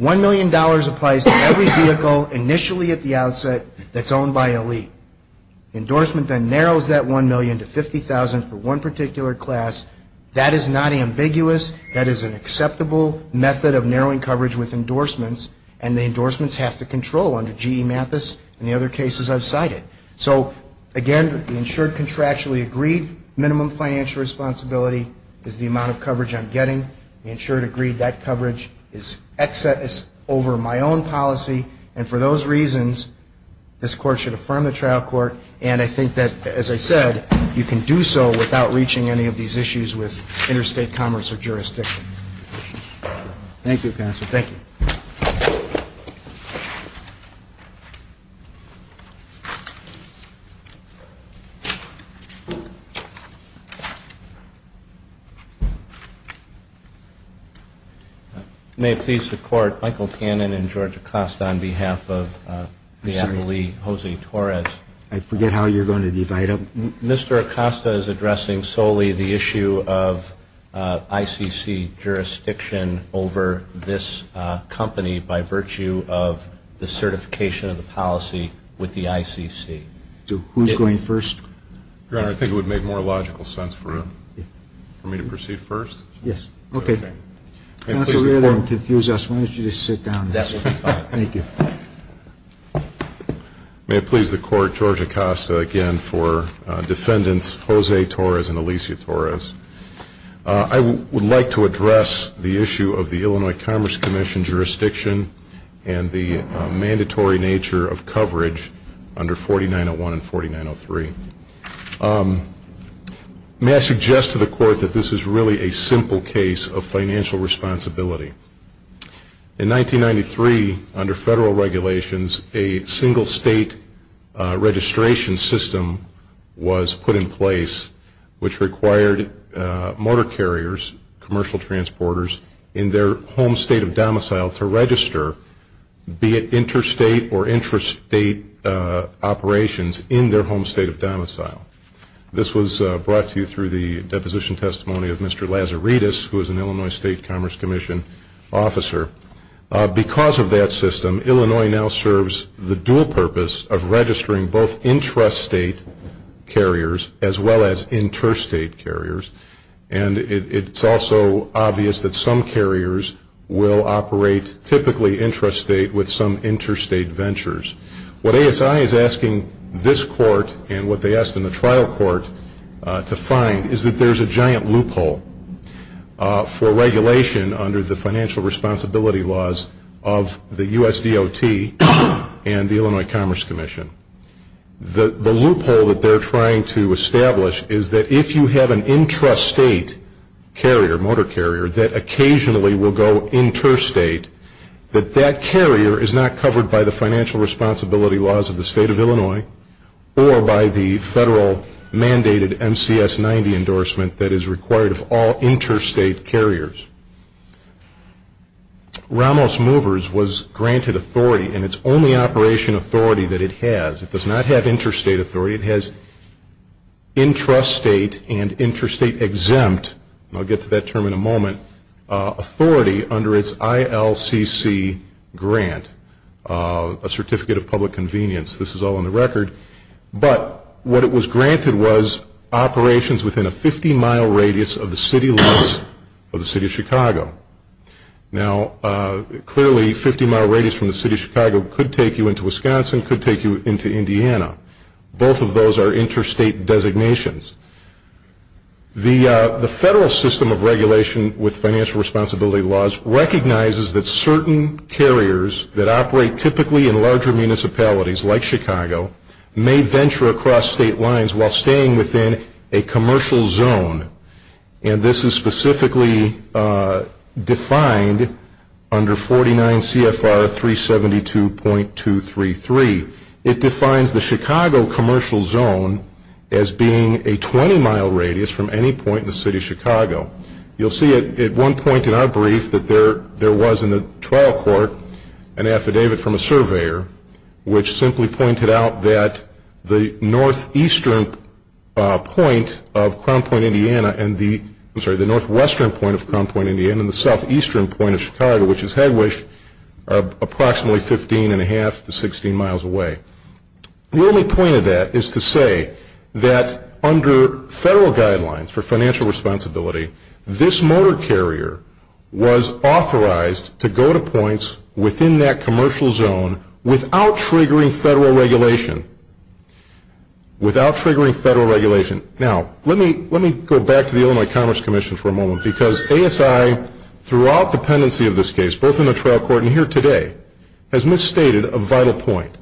$1 million applies to every vehicle initially at the outset that's owned by an elite. Endorsement then narrows that $1 million to $50,000 for one particular class. That is not ambiguous. That is an acceptable method of narrowing coverage with endorsements, and the endorsements have to control under G.E. Mathis and the other cases I've cited. So, again, the insured contractually agreed minimum financial responsibility is the amount of coverage I'm getting. The insured agreed that coverage is excess over my own policy, and for those reasons this court should affirm the trial court, and I think that, as I said, you can do so without reaching any of these issues with interstate commerce or jurisdiction. Thank you, counsel. Thank you. May I please support Michael Cannon and George Acosta on behalf of the Adelaide, Jose Torres. I forget how you're going to divide them. Mr. Acosta is addressing solely the issue of ICC jurisdiction over this company by virtue of the certification of the policy with the ICC. Who's going first? I think it would make more logical sense for me to proceed first. Yes. Okay. I don't want to confuse us. Why don't you just sit down. Thank you. May I please the court George Acosta again for defendants Jose Torres and Alicia Torres. I would like to address the issue of the Illinois Commerce Commission jurisdiction and the mandatory nature of coverage under 4901 and 4903. May I suggest to the court that this is really a simple case of financial responsibility. In 1993, under federal regulations, a single state registration system was put in place which required motor carriers, commercial transporters, in their home state of domicile to register, be it interstate or intrastate operations in their home state of domicile. This was brought to you through the deposition testimony of Mr. Lazaridis, who is an Illinois State Commerce Commission officer. Because of that system, Illinois now serves the dual purpose of registering both intrastate carriers as well as interstate carriers. And it's also obvious that some carriers will operate typically intrastate with some interstate ventures. What ASI is asking this court and what they asked in the trial court to find is that there's a giant loophole for regulation under the financial responsibility laws of the USDOT and the Illinois Commerce Commission. The loophole that they're trying to establish is that if you have an intrastate carrier, motor carrier, that occasionally will go interstate, that that carrier is not covered by the financial responsibility laws of the state of Illinois or by the federal mandated MCS 90 endorsement that is required of all interstate carriers. Ramos Movers was granted authority, and it's only operation authority that it has. It does not have interstate authority. It has intrastate and interstate exempt, and I'll get to that term in a moment, authority under its ILCC grant, a certificate of public convenience. This is all on the record. But what it was granted was operations within a 50-mile radius of the city limits of the city of Chicago. Now, clearly, a 50-mile radius from the city of Chicago could take you into Wisconsin, could take you into Indiana. Both of those are interstate designations. The federal system of regulation with financial responsibility laws recognizes that certain carriers that operate typically in larger municipalities, like Chicago, may venture across state lines while staying within a commercial zone, and this is specifically defined under 49 CFR 372.233. It defines the Chicago commercial zone as being a 20-mile radius from any point in the city of Chicago. You'll see at one point in our brief that there was in the trial court an affidavit from a surveyor which simply pointed out that the northeastern point of Crown Point, Indiana, and the southwestern point of Crown Point, Indiana, and the southeastern point of Chicago, which is Hedwig, are approximately 15.5 to 16 miles away. The only point of that is to say that under federal guidelines for financial responsibility, this motor carrier was authorized to go to points within that commercial zone without triggering federal regulation. Without triggering federal regulation. Now, let me go back to the Illinois Commerce Commission for a moment because ASI, throughout the pendency of this case, both in the trial court and here today, has misstated a vital point.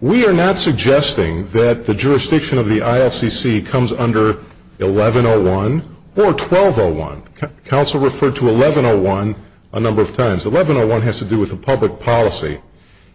We are not suggesting that the jurisdiction of the ILCC comes under 1101 or 1201. Council referred to 1101 a number of times. 1101 has to do with the public policy.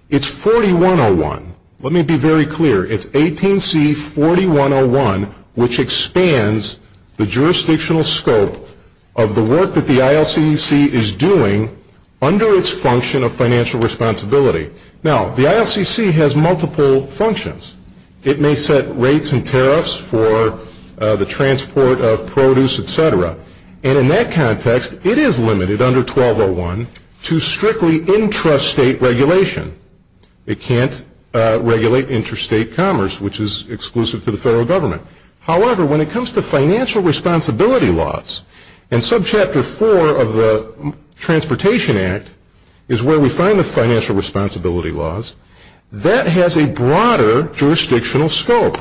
It's 4101. Let me be very clear. It's 18C4101, which expands the jurisdictional scope of the work that the ILCC is doing under its function of financial responsibility. Now, the ILCC has multiple functions. It may set rates and tariffs for the transport of produce, et cetera. And in that context, it is limited under 1201 to strictly intrastate regulation. It can't regulate intrastate commerce, which is exclusive to the federal government. However, when it comes to financial responsibility laws, in subchapter 4 of the Transportation Act is where we find the financial responsibility laws. That has a broader jurisdictional scope.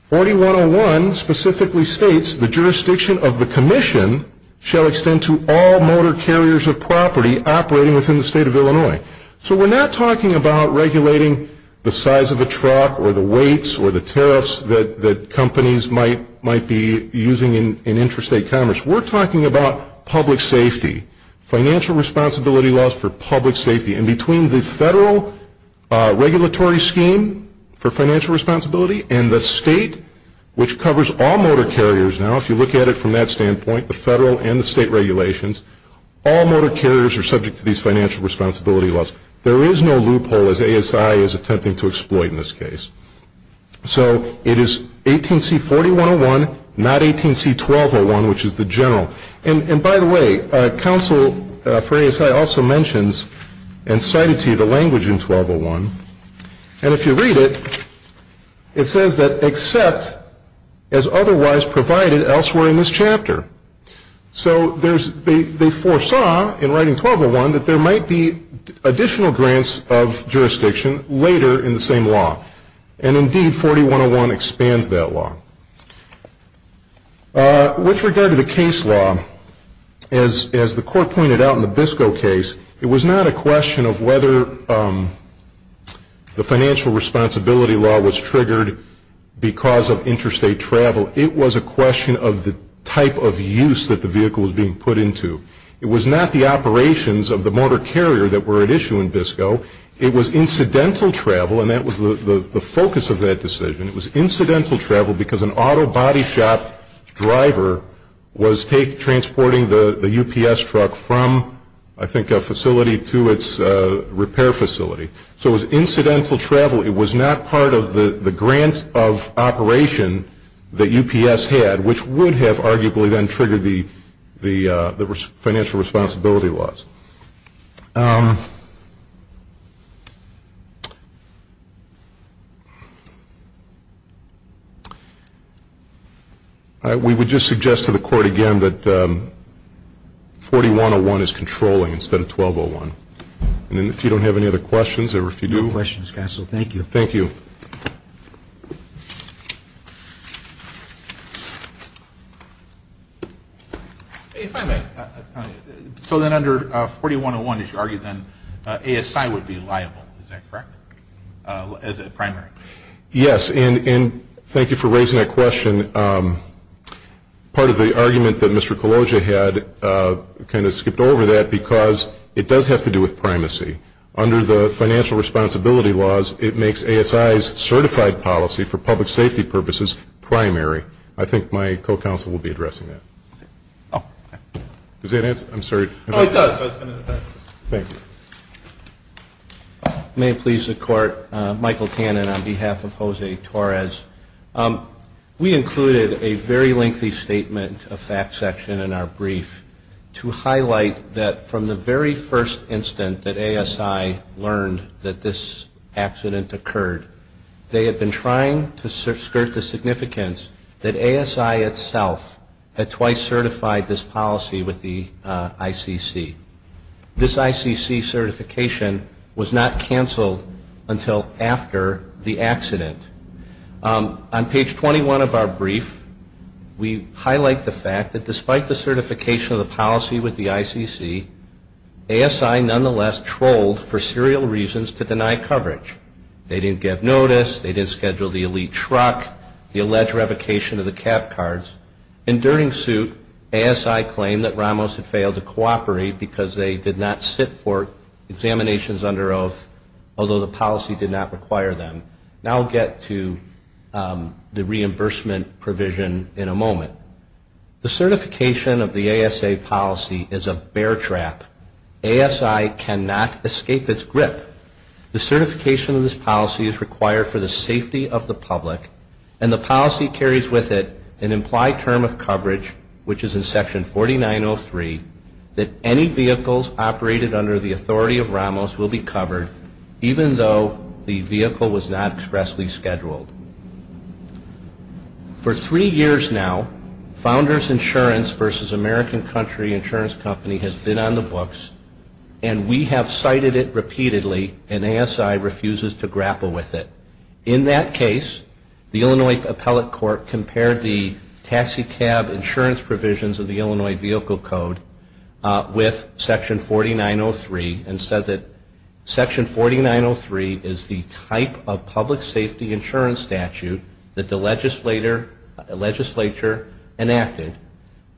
4101 specifically states the jurisdiction of the commission shall extend to all motor carriers of property operating within the state of Illinois. So we're not talking about regulating the size of the truck or the weights or the tariffs that companies might be using in intrastate commerce. We're talking about public safety, financial responsibility laws for public safety. And between the federal regulatory scheme for financial responsibility and the state, which covers all motor carriers now, if you look at it from that standpoint, the federal and the state regulations, all motor carriers are subject to these financial responsibility laws. There is no loophole as ASI is attempting to exploit in this case. So it is 18C4101, not 18C1201, which is the general. And by the way, counsel for ASI also mentions and cites here the language in 1201. And if you read it, it says that except as otherwise provided elsewhere in this chapter. So they foresaw in writing 1201 that there might be additional grants of jurisdiction later in the same law. And indeed 4101 expands that law. With regard to the case law, as the court pointed out in the Biscoe case, it was not a question of whether the financial responsibility law was triggered because of intrastate travel. It was a question of the type of use that the vehicle was being put into. It was not the operations of the motor carrier that were at issue in Biscoe. It was incidental travel, and that was the focus of that decision. It was incidental travel because an auto body shop driver was transporting the UPS truck from, I think, a facility to its repair facility. So it was incidental travel. It was not part of the grant of operation that UPS had, which would have arguably then triggered the financial responsibility laws. We would just suggest to the court again that 4101 is controlling instead of 1201. And if you don't have any other questions, or if you do... No questions, counsel. Thank you. Thank you. So then under 4101, as you argued then, ASI would be liable, is that correct, as a primary? Yes, and thank you for raising that question. Part of the argument that Mr. Colosio had kind of skipped over that because it does have to do with primacy. Under the financial responsibility laws, it makes ASI's certified policy for public safety purposes primary. I think my co-counsel will be addressing that. Does that answer? I'm sorry. Oh, it does. Thank you. May it please the court, Michael Tannen on behalf of Jose Torres. We included a very lengthy statement, a fact section in our brief, to highlight that from the very first instant that ASI learned that this accident occurred, they had been trying to skirt the significance that ASI itself had twice certified this policy with the ICC. This ICC certification was not canceled until after the accident. On page 21 of our brief, we highlight the fact that despite the certification of the policy with the ICC, ASI nonetheless trolled for serial reasons to deny coverage. They didn't get notice. They didn't schedule the elite truck, the alleged revocation of the cap cards. In during suit, ASI claimed that Ramos had failed to cooperate because they did not sit for examinations under oath, although the policy did not require them. And I'll get to the reimbursement provision in a moment. The certification of the ASA policy is a bear trap. ASI cannot escape its grip. The certification of this policy is required for the safety of the public, and the policy carries with it an implied term of coverage, which is in section 4903, that any vehicles operated under the authority of Ramos will be covered, even though the vehicle was not expressly scheduled. For three years now, Founders Insurance versus American Country Insurance Company has been on the books, and we have cited it repeatedly, and ASI refuses to grapple with it. In that case, the Illinois Appellate Court compared the taxicab insurance provisions of the Illinois Vehicle Code with section 4903, and said that section 4903 is the type of public safety insurance statute that the legislature enacted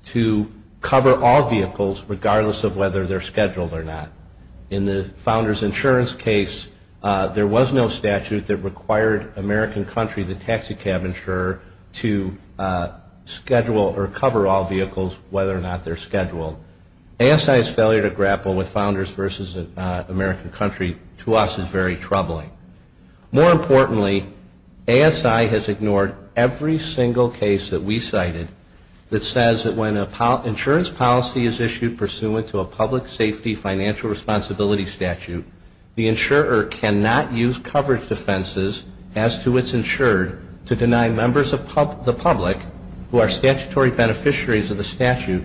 to cover all vehicles, regardless of whether they're scheduled or not. In the Founders Insurance case, there was no statute that required American Country, the taxicab insurer, to schedule or cover all vehicles, whether or not they're scheduled. ASI's failure to grapple with Founders versus American Country, to us, is very troubling. More importantly, ASI has ignored every single case that we cited that says that when an insurance policy is issued pursuant to a public safety financial responsibility statute, the insurer cannot use coverage defenses as to its insured to deny members of the public, who are statutory beneficiaries of the statute,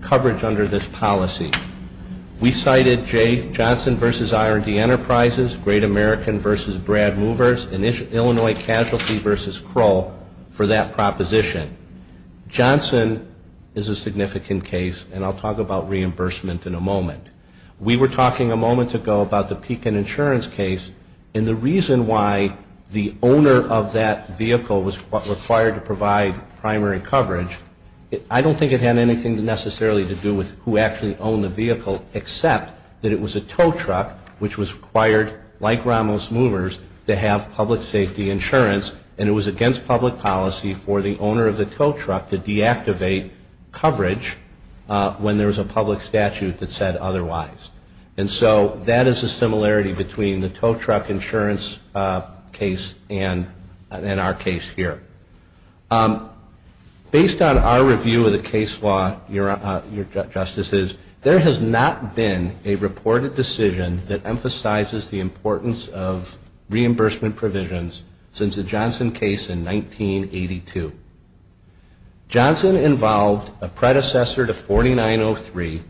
coverage under this policy. We cited Johnson versus R&D Enterprises, Great American versus Brad Movers, and Illinois Casualty versus Kroll for that proposition. Johnson is a significant case, and I'll talk about reimbursement in a moment. We were talking a moment ago about the Pekin Insurance case, and the reason why the owner of that vehicle was required to provide primary coverage, I don't think it had anything necessarily to do with who actually owned the vehicle, except that it was a tow truck, which was required, like Ramos Movers, to have public safety insurance, and it was against public policy for the owner of the tow truck to deactivate coverage when there was a public statute that said otherwise. And so that is a similarity between the tow truck insurance case and our case here. Based on our review of the case law, your Justices, there has not been a reported decision that emphasizes the importance of reimbursement provisions since the Johnson case in 1982. Johnson involved a predecessor to 4903,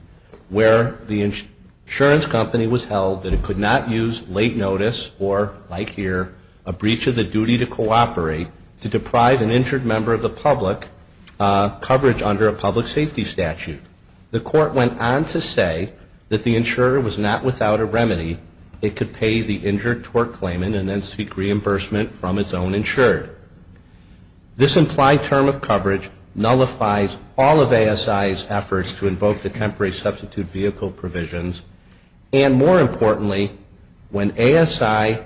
where the insurance company was held and could not use late notice or, like here, a breach of the duty to cooperate, to deprive an injured member of the public coverage under a public safety statute. The court went on to say that the insurer was not without a remedy. It could pay the injured tow truck claimant and then seek reimbursement from its own insurer. This implied term of coverage nullifies all of ASI's efforts to invoke the temporary substitute vehicle provisions, and more importantly, when ASI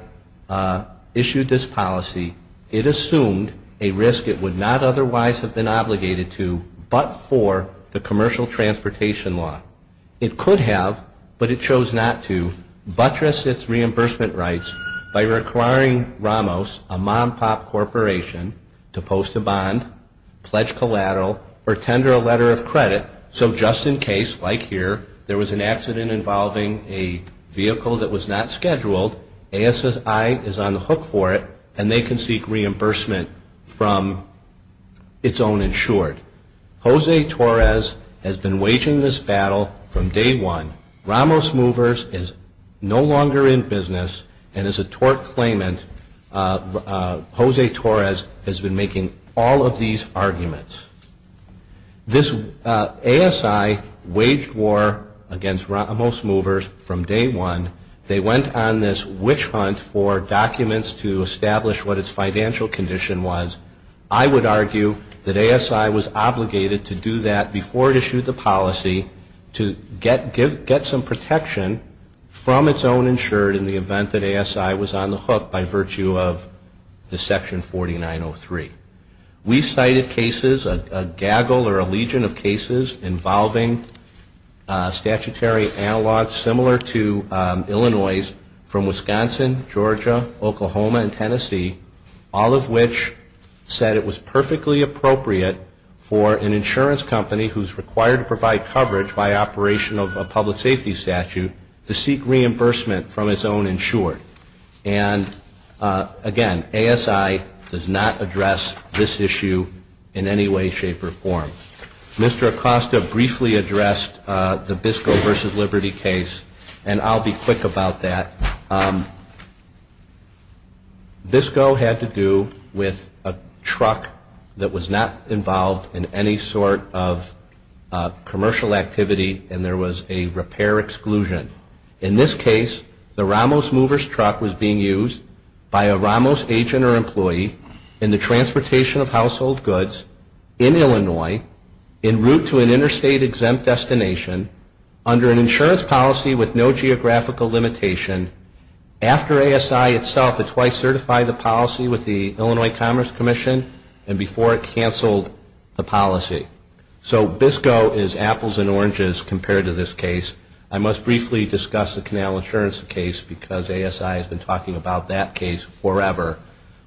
issued this policy, it assumed a risk it would not otherwise have been obligated to but for the commercial transportation law. It could have, but it chose not to, buttress its reimbursement rights by requiring Ramos, a mom-pop corporation, to post a bond, pledge collateral, or tender a letter of credit so just in case, like here, there was an accident involving a vehicle that was not scheduled, ASI is on the hook for it and they can seek reimbursement from its own insured. Jose Torres has been waging this battle from day one. Ramos Movers is no longer in business and is a tort claimant. Jose Torres has been making all of these arguments. This ASI waged war against Ramos Movers from day one. They went on this witch hunt for documents to establish what its financial condition was. I would argue that ASI was obligated to do that before it issued the policy to get some protection from its own insured in the event that ASI was on the hook by virtue of the Section 4903. We cited cases, a gaggle or a legion of cases, involving statutory analogs similar to Illinois's all of which said it was perfectly appropriate for an insurance company who is required to provide coverage by operation of a public safety statute to seek reimbursement from its own insured. Again, ASI does not address this issue in any way, shape, or form. Mr. Acosta briefly addressed the Bisco versus Liberty case and I'll be quick about that. Bisco had to do with a truck that was not involved in any sort of commercial activity and there was a repair exclusion. In this case, the Ramos Movers truck was being used by a Ramos agent or employee in the transportation of household goods in Illinois in route to an interstate exempt destination under an insurance policy with no geographical limitation after ASI itself had twice certified the policy with the Illinois Commerce Commission and before it canceled the policy. So Bisco is apples and oranges compared to this case. I must briefly discuss the Canal Assurance case because ASI has been talking about that case forever.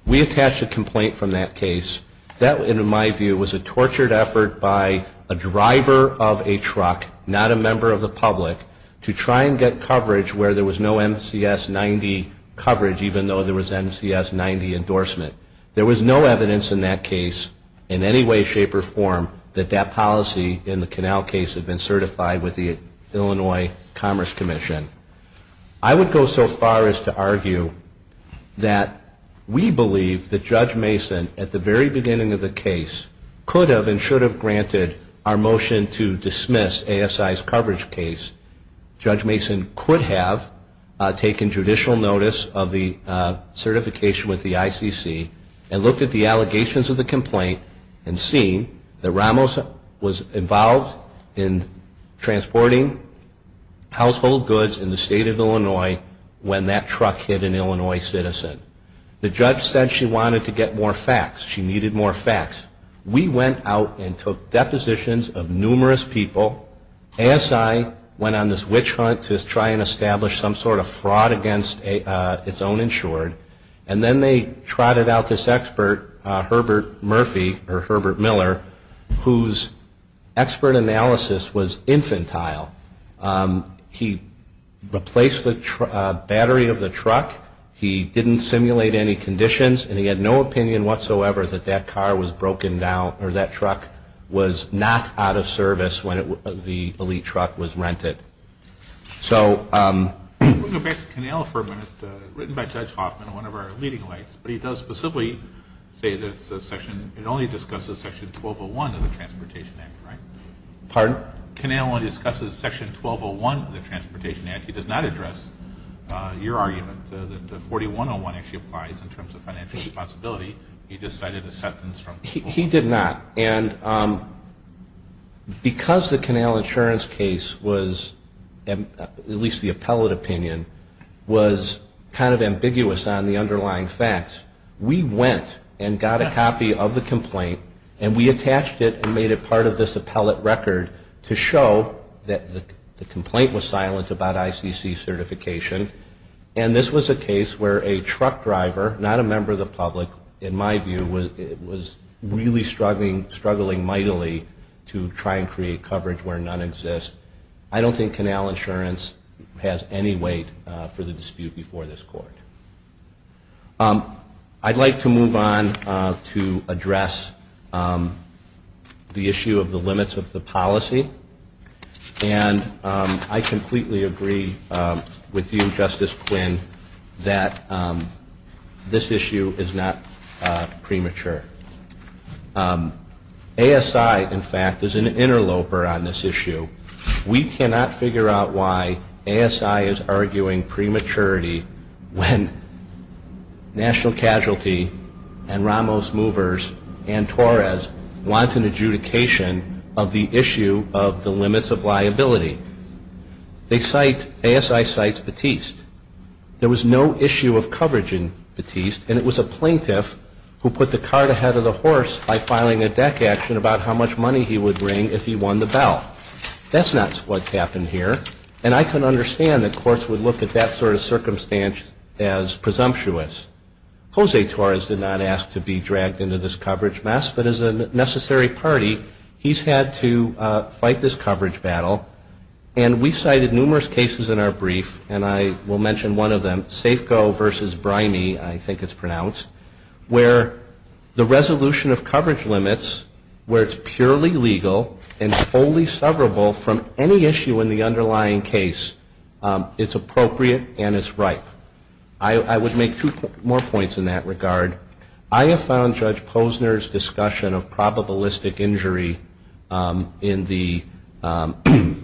We attached a complaint from that case. That, in my view, was a tortured effort by a driver of a truck, not a member of the public, to try and get coverage where there was no MCS 90 coverage even though there was MCS 90 endorsement. There was no evidence in that case in any way, shape, or form that that policy in the Canal case had been certified with the Illinois Commerce Commission. I would go so far as to argue that we believe that Judge Mason, at the very beginning of the case, could have and should have granted our motion to dismiss ASI's coverage case. Judge Mason could have taken judicial notice of the certification with the ICC and looked at the allegations of the complaint and seen that Ramos was involved in transporting household goods in the state of Illinois when that truck hit an Illinois citizen. The judge said she wanted to get more facts. She needed more facts. We went out and took depositions of numerous people. ASI went on this witch hunt to try and establish some sort of fraud against its own insured. And then they trotted out this expert, Herbert Murphy, or Herbert Miller, whose expert analysis was infantile. He replaced the battery of the truck. He didn't simulate any conditions, and he had no opinion whatsoever that that car was broken down or that truck was not out of service when the elite truck was rented. We'll go back to Connell for a minute. Written by Judge Hoffman, one of our leading lights, but he does specifically say that the section, it only discusses section 1201 of the Transportation Act, correct? Pardon? Connell only discusses section 1201 of the Transportation Act. He does not address your argument that 4101 actually applies in terms of financial responsibility. He decided to set an instruction. He did not. And because the Connell insurance case was, at least the appellate opinion, was kind of ambiguous on the underlying facts, we went and got a copy of the complaint, and we attached it and made it part of this appellate record to show that the complaint was silent about ICC certification, and this was a case where a truck driver, not a member of the public, in my view, was really struggling mightily to try and create coverage where none exists. I don't think Connell insurance has any weight for the dispute before this court. I'd like to move on to address the issue of the limits of the policy, and I completely agree with you, Justice Quinn, that this issue is not premature. ASI, in fact, is an interloper on this issue. We cannot figure out why ASI is arguing prematurity when National Casualty and Ramos Movers and Torres want an adjudication of the issue of the limits of liability. ASI cites Batiste. There was no issue of coverage in Batiste, and it was a plaintiff who put the cart ahead of the horse by filing a deck action about how much money he would bring if he won the bell. That's not what happened here, and I can understand that courts would look at that sort of circumstance as presumptuous. Jose Torres did not ask to be dragged into this coverage mess, but as a necessary party, he's had to fight this coverage battle, and we cited numerous cases in our brief, and I will mention one of them, Safeco v. Brimey, I think it's pronounced, where the resolution of coverage limits where it's purely legal and fully severable from any issue in the underlying case, it's appropriate and it's right. I would make two more points in that regard. I have found Judge Posner's discussion of probabilistic injury in the Old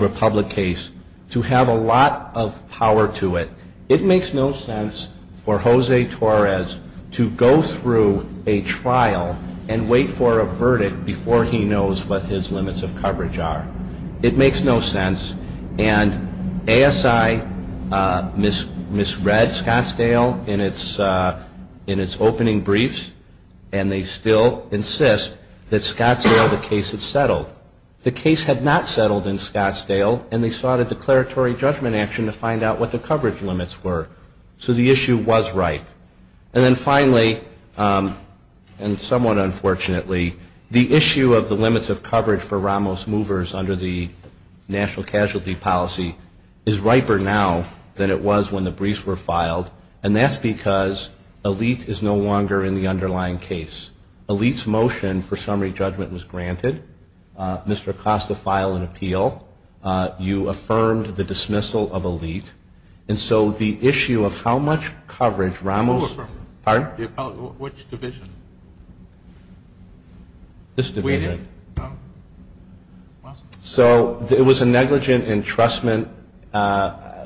Republic case to have a lot of power to it. It makes no sense for Jose Torres to go through a trial and wait for a verdict before he knows what his limits of coverage are. It makes no sense. And ASI misread Scottsdale in its opening briefs, and they still insist that Scottsdale, the case, had settled. The case had not settled in Scottsdale, and they sought a declaratory judgment action to find out what the coverage limits were. So the issue was right. And then finally, and somewhat unfortunately, the issue of the limits of coverage for Ramos movers under the national casualty policy is riper now than it was when the briefs were filed, and that's because Elite is no longer in the underlying case. Elite's motion for summary judgment was granted. Mr. Acosta filed an appeal. You affirmed the dismissal of Elite. And so the issue of how much coverage Ramos... Pardon? Which division? This division. So it was a negligent entrustment.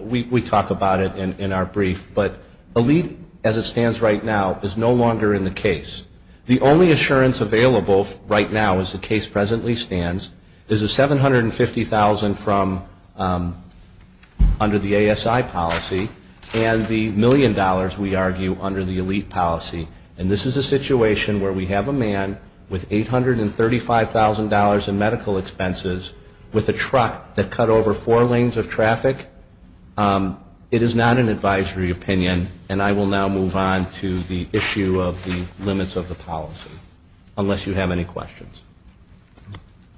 We talk about it in our brief. But Elite, as it stands right now, is no longer in the case. The only assurance available right now, as the case presently stands, is the $750,000 from under the ASI policy and the million dollars, we'd argue, under the Elite policy. And this is a situation where we have a man with $835,000 in medical expenses with a truck that cut over four lanes of traffic. It is not an advisory opinion. And I will now move on to the issue of the limits of the policy, unless you have any questions.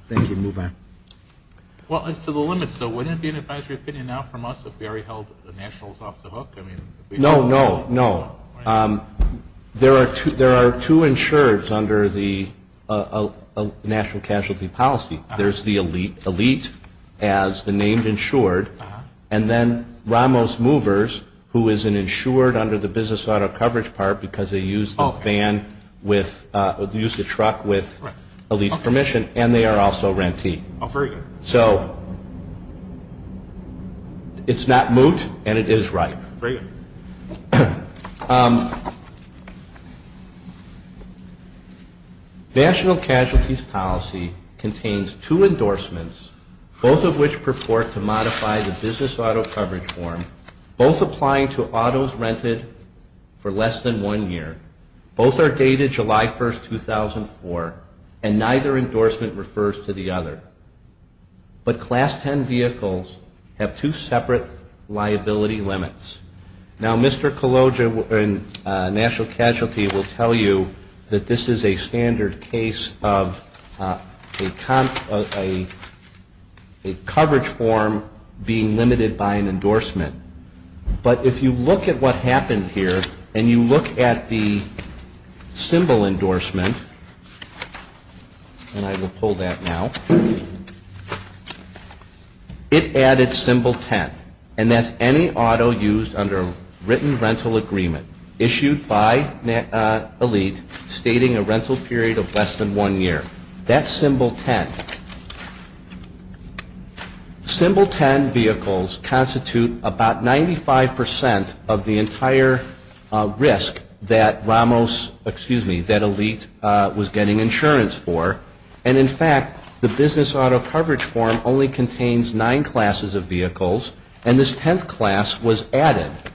Thank you. Move on. Well, it's to the limits, so wouldn't it be an advisory opinion now from us if we already held the nationals off the hook? No, no, no. There are two insureds under the national casualty policy. There's the Elite, as the name insured, and then Ramos Movers, who is an insured under the business auto coverage part because they used the van with, used the truck with Elite's permission, and they are also rentee. So it's not moved, and it is right. National casualties policy contains two endorsements, both of which purport to modify the business auto coverage form, both applying to autos rented for less than one year. Both are dated July 1, 2004, and neither endorsement refers to the other. But Class 10 vehicles have two separate liability limits. Now, Mr. Cologia in national casualty will tell you that this is a standard case of a coverage form being limited by an endorsement. But if you look at what happened here, and you look at the symbol endorsement, and I will pull that now, it added symbol 10, and that's any auto used under written rental agreement issued by Elite stating a rental period of less than one year. That's symbol 10. Symbol 10 vehicles constitute about 95% of the entire risk that Ramos, excuse me, that Elite was getting insurance for, and in fact the business auto coverage form only contains nine classes of vehicles, and this 10th class was added. Now,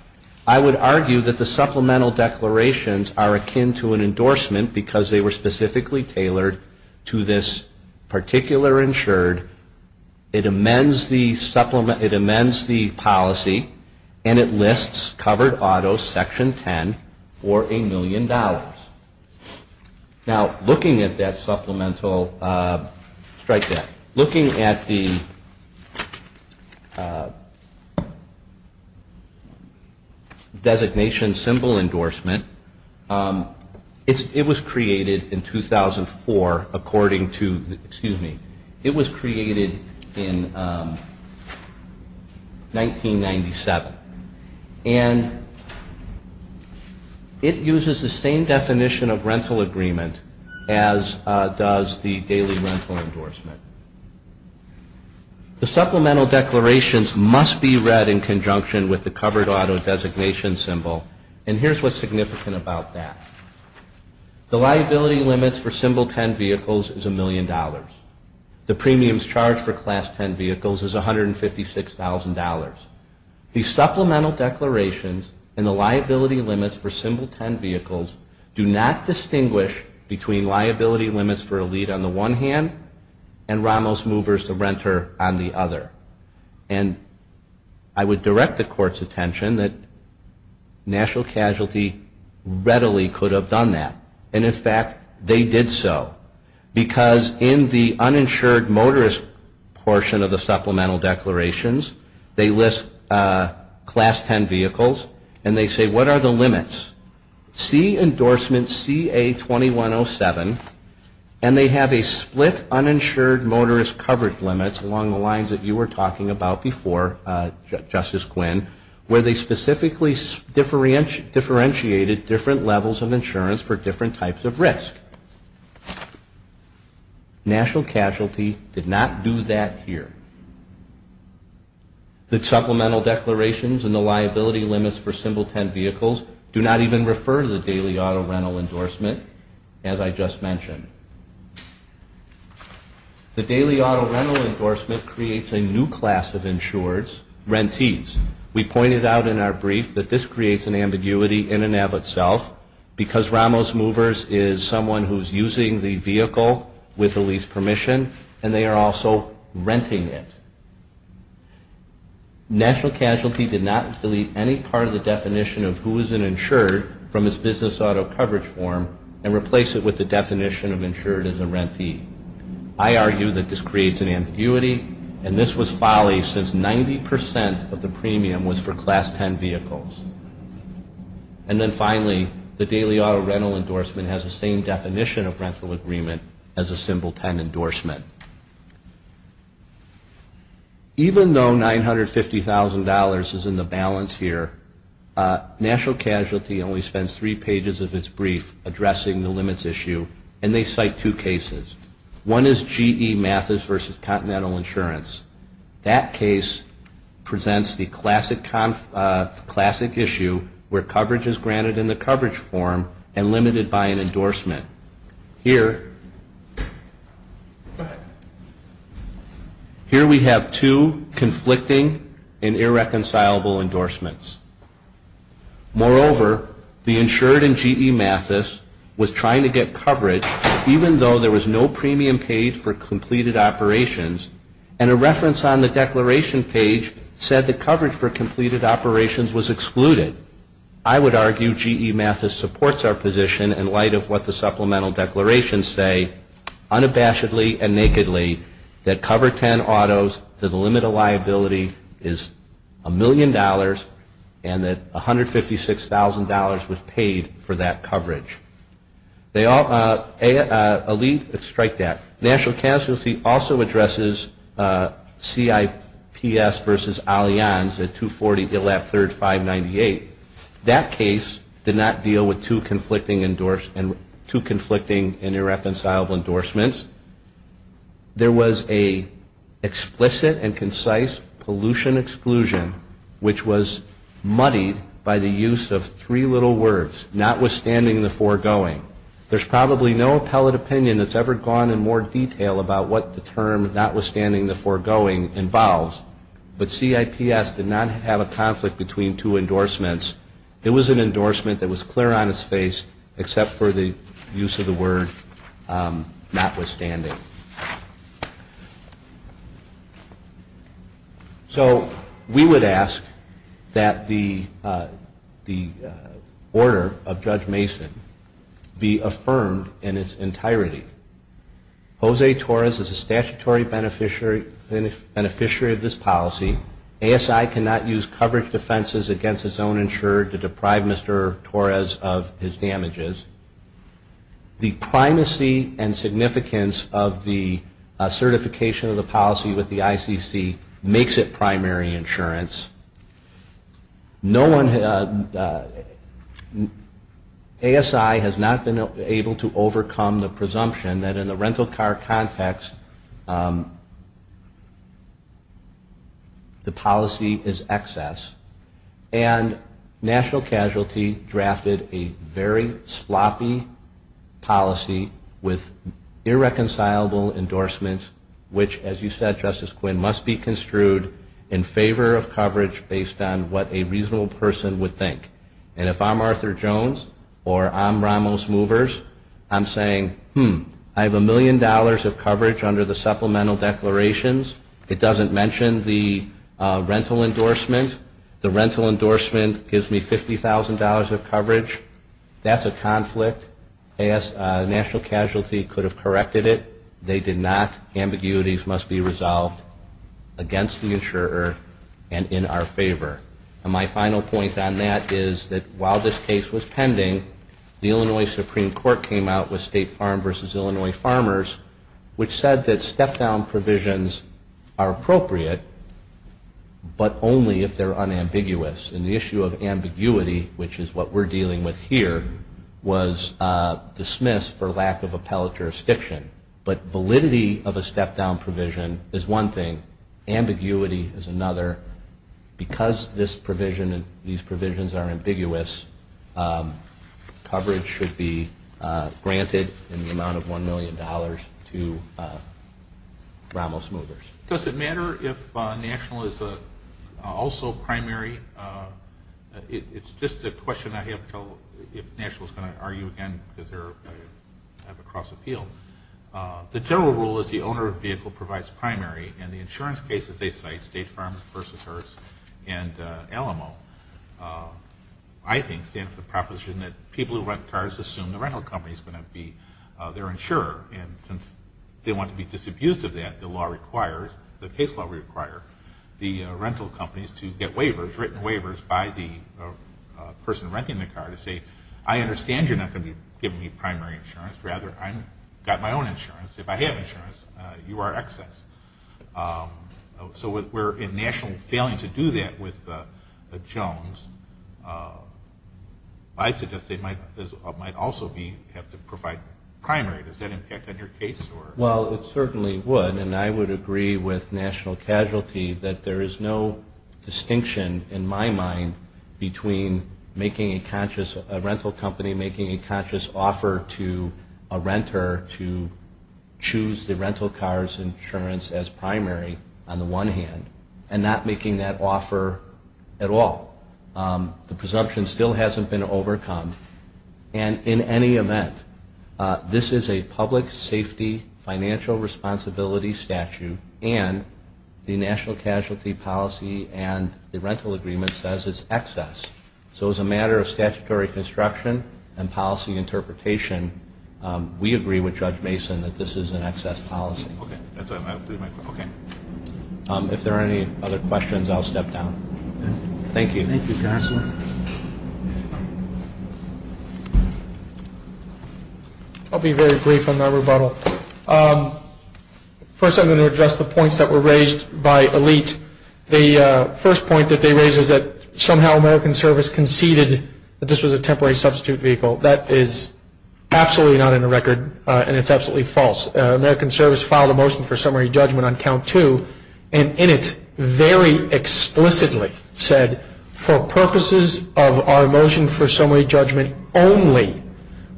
I would argue that the supplemental declarations are akin to an endorsement because they were specifically tailored to this particular insured. It amends the policy, and it lists covered autos section 10 for a million dollars. Now, looking at that supplemental, strike that, looking at the designation symbol endorsement, it was created in 2004 according to, excuse me, it was created in 1997, and it uses the same definition of rental agreement as does the daily rental endorsement. The supplemental declarations must be read in conjunction with the covered auto designation symbol, and here's what's significant about that. The liability limits for symbol 10 vehicles is a million dollars. The premiums charged for class 10 vehicles is $156,000. The supplemental declarations and the liability limits for symbol 10 vehicles do not distinguish between liability limits for Elite on the one hand and Ramos movers to renter on the other, and I would direct the court's attention that National Casualty readily could have done that, and in fact, they did so because in the uninsured motorist portion of the supplemental declarations, they list class 10 vehicles, and they say, what are the limits? See endorsement CA-2107, and they have a split uninsured motorist covered limits along the lines that you were talking about before, Justice Quinn, where they specifically differentiated different levels of insurance for different types of risk. National Casualty did not do that here. The supplemental declarations and the liability limits for symbol 10 vehicles do not even refer to the daily auto rental endorsement, as I just mentioned. The daily auto rental endorsement creates a new class of insureds, rentees. We pointed out in our brief that this creates an ambiguity in and of itself because Ramos movers is someone who is using the vehicle with the lease permission, and they are also renting it. National Casualty did not delete any part of the definition of who is an insured from its business auto coverage form and replace it with the definition of insured as a rentee. I argue that this creates an ambiguity, and this was folly since 90% of the premium was for class 10 vehicles. And then finally, the daily auto rental endorsement has the same definition of rental agreement as a symbol 10 endorsement. Even though $950,000 is in the balance here, National Casualty only spends three pages of its brief addressing the limits issue, and they cite two cases. One is GE Mathis versus Continental Insurance. That case presents the classic issue where coverage is granted in the coverage form and limited by an endorsement. Here we have two conflicting and irreconcilable endorsements. Moreover, the insured in GE Mathis was trying to get coverage even though there was no premium paid for completed operations, and a reference on the declaration page said the coverage for completed operations was excluded. I would argue GE Mathis supports our position in light of what the supplemental declarations say unabashedly and nakedly that cover 10 autos to the limit of liability is $1 million and that $156,000 was paid for that coverage. National Casualty also addresses CIPS versus Allianz at 240-3598. That case did not deal with two conflicting and irreconcilable endorsements. There was an explicit and concise pollution exclusion, which was muddied by the use of three little words, notwithstanding the foregoing. There's probably no appellate opinion that's ever gone in more detail about what the term notwithstanding the foregoing involves, but CIPS did not have a conflict between two endorsements. It was an endorsement that was clear on its face except for the use of the word notwithstanding. So we would ask that the order of Judge Mason be affirmed in its entirety. Jose Torres is a statutory beneficiary of this policy. ASI cannot use coverage defenses against its own insurer to deprive Mr. Torres of his damages. The primacy and significance of the certification of the policy with the ICC makes it primary insurance. ASI has not been able to overcome the presumption that in a rental car context the policy is excess, and National Casualty drafted a very sloppy policy with irreconcilable endorsements, which, as you said, Justice Quinn, must be construed in favor of coverage based on what a reasonable person would think. And if I'm Arthur Jones or I'm Ramos Movers, I'm saying, hmm, I have a million dollars of coverage under the supplemental declarations. It doesn't mention the rental endorsement. The rental endorsement gives me $50,000 of coverage. That's a conflict. National Casualty could have corrected it. They did not. Ambiguities must be resolved against the insurer and in our favor. My final point on that is that while this case was pending, the Illinois Supreme Court came out with State Farm versus Illinois Farmers, which said that step-down provisions are appropriate, but only if they're unambiguous. And the issue of ambiguity, which is what we're dealing with here, was dismissed for lack of appellate jurisdiction. But validity of a step-down provision is one thing. Ambiguity is another. Because this provision and these provisions are ambiguous, coverage should be granted in the amount of $1 million to Ramos Movers. Does it matter if National is also primary? It's just a question I have until National is going to argue again that they're across the field. The general rule is the owner of the vehicle provides primary, and the insurance case that they cite, State Farms versus Hearst and Alamo, I think stands for the proposition that people who rent cars assume the rental company is going to be their insurer. And since they want to be disabused of that, the law requires, the case law requires, the rental companies to get waivers, written waivers, by the person renting the car to say, I understand you're not going to give me primary insurance. Rather, I've got my own insurance. If I have insurance, you are excess. So if National is failing to do that with the Jones, I suggest they might also have to provide primary. Does that impact on your case? Well, it certainly would. And I would agree with National Casualty that there is no distinction in my mind between making a conscious, a rental company making a conscious offer to a renter to choose the rental car's insurance as primary on the one hand, and not making that offer at all. The presumption still hasn't been overcome. And in any event, this is a public safety financial responsibility statute, and the National Casualty Policy and the rental agreement says it's excess. So as a matter of statutory construction and policy interpretation, we agree with Judge Mason that this is an excess policy. Okay. If there are any other questions, I'll step down. Thank you. Thank you, Counselor. I'll be very brief on that rebuttal. First, I'm going to address the points that were raised by Elite. The first point that they raised is that somehow American Service conceded that this was a temporary substitute vehicle. That is absolutely not in the record, and it's absolutely false. American Service filed a motion for summary judgment on count two, and in it very explicitly said, for purposes of our motion for summary judgment only,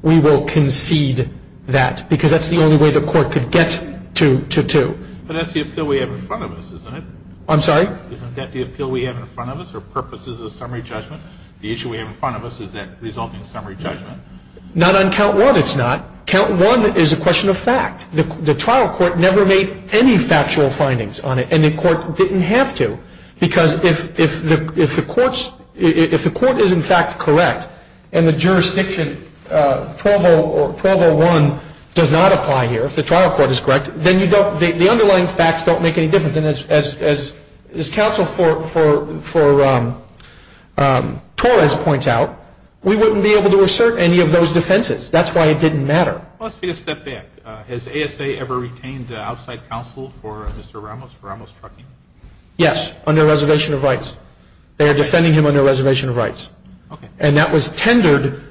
we will concede that, because that's the only way the court could get to two. But that's the appeal we have in front of us, isn't it? I'm sorry? Isn't that the appeal we have in front of us for purposes of summary judgment? The issue we have in front of us is that resulting summary judgment. Not on count one it's not. Count one is a question of fact. The trial court never made any factual findings on it, and the court didn't have to, because if the court is, in fact, correct, and the jurisdiction provo one does not apply here, if the trial court is correct, then the underlying facts don't make any difference. And as counsel for Torres points out, we wouldn't be able to assert any of those defenses. That's why it didn't matter. Let's take a step back. Has ASA ever retained the outside counsel for Mr. Ramos, for Ramos Trucking? Yes, under Reservation of Rights. They are defending him under Reservation of Rights. And that was tendered,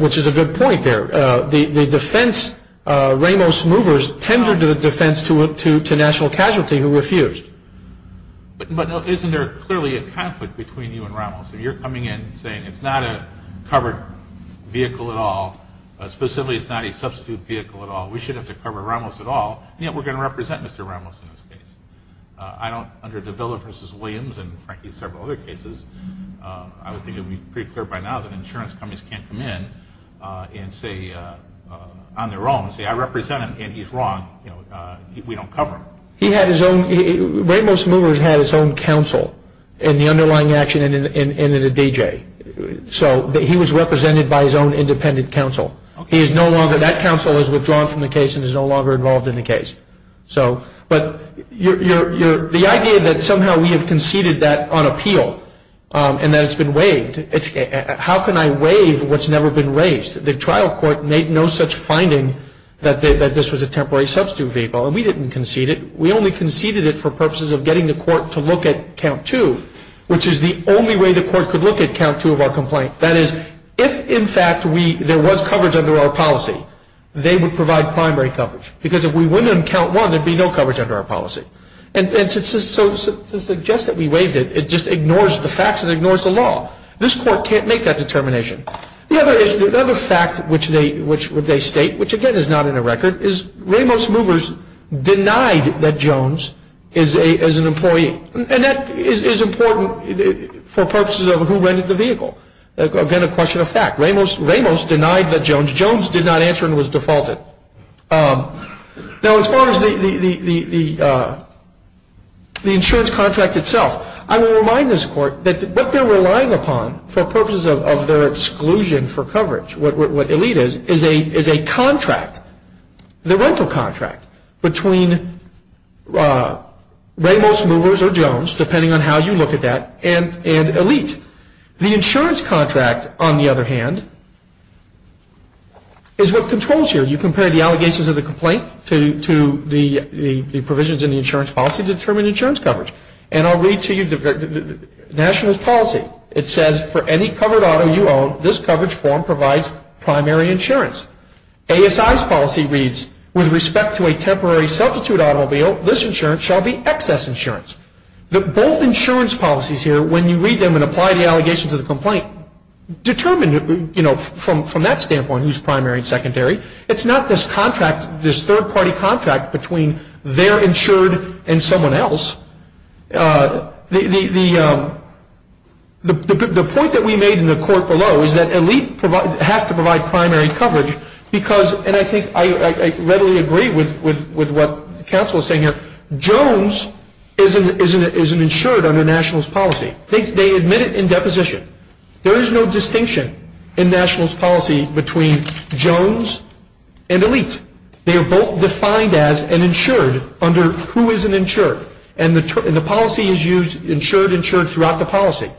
which is a good point there. The defense, Ramos Movers, tendered the defense to national casualty who refused. But isn't there clearly a conflict between you and Ramos? You're coming in saying it's not a covered vehicle at all, specifically it's not a substitute vehicle at all. We shouldn't have to cover Ramos at all, yet we're going to represent Mr. Ramos in this case. I don't, under De Villa v. Williams and, frankly, several other cases, I would think it would be pretty clear by now that insurance companies can't come in and say, on their own, say I represent him and he's wrong, we don't cover him. He had his own, Ramos Movers had his own counsel in the underlying action and in the DJ. So, he was represented by his own independent counsel. He is no longer, that counsel is withdrawn from the case and is no longer involved in the case. But the idea that somehow we have conceded that on appeal and that it's been waived, how can I waive what's never been raised? The trial court made no such finding that this was a temporary substitute vehicle, and we didn't concede it. We only conceded it for purposes of getting the court to look at count two, which is the only way the court could look at count two of our complaint. That is, if, in fact, there was coverage under our policy, they would provide primary coverage. Because if we went on count one, there would be no coverage under our policy. And to suggest that we waived it, it just ignores the facts and ignores the law. This court can't make that determination. The other fact which they state, which again is not in the record, is Ramos Movers denied that Jones is an employee. And that is important for purposes of who rented the vehicle. Again, a question of fact. Ramos denied that Jones did not answer and was defaulted. Now, as far as the insurance contract itself, I want to remind this court that what they're relying upon for purposes of their exclusion for coverage, what ELITE is, is a contract, the rental contract between Ramos Movers or Jones, depending on how you look at that, and ELITE. The insurance contract, on the other hand, is what controls you. You compare the allegations of the complaint to the provisions in the insurance policy to determine insurance coverage. And I'll read to you the national policy. It says, for any covered auto you own, this coverage form provides primary insurance. ASI's policy reads, with respect to a temporary substitute automobile, this insurance shall be excess insurance. Both insurance policies here, when you read them and apply the allegations of the complaint, determine from that standpoint who's primary and secondary. It's not this contract, this third-party contract between their insured and someone else. The point that we made in the court below is that ELITE has to provide primary coverage because, and I think I readily agree with what counsel is saying here, Jones is an insured under nationals policy. They admit it in deposition. There is no distinction in nationals policy between Jones and ELITE. They are both defined as an insured under who is an insured. And the policy is used, insured, insured throughout the policy.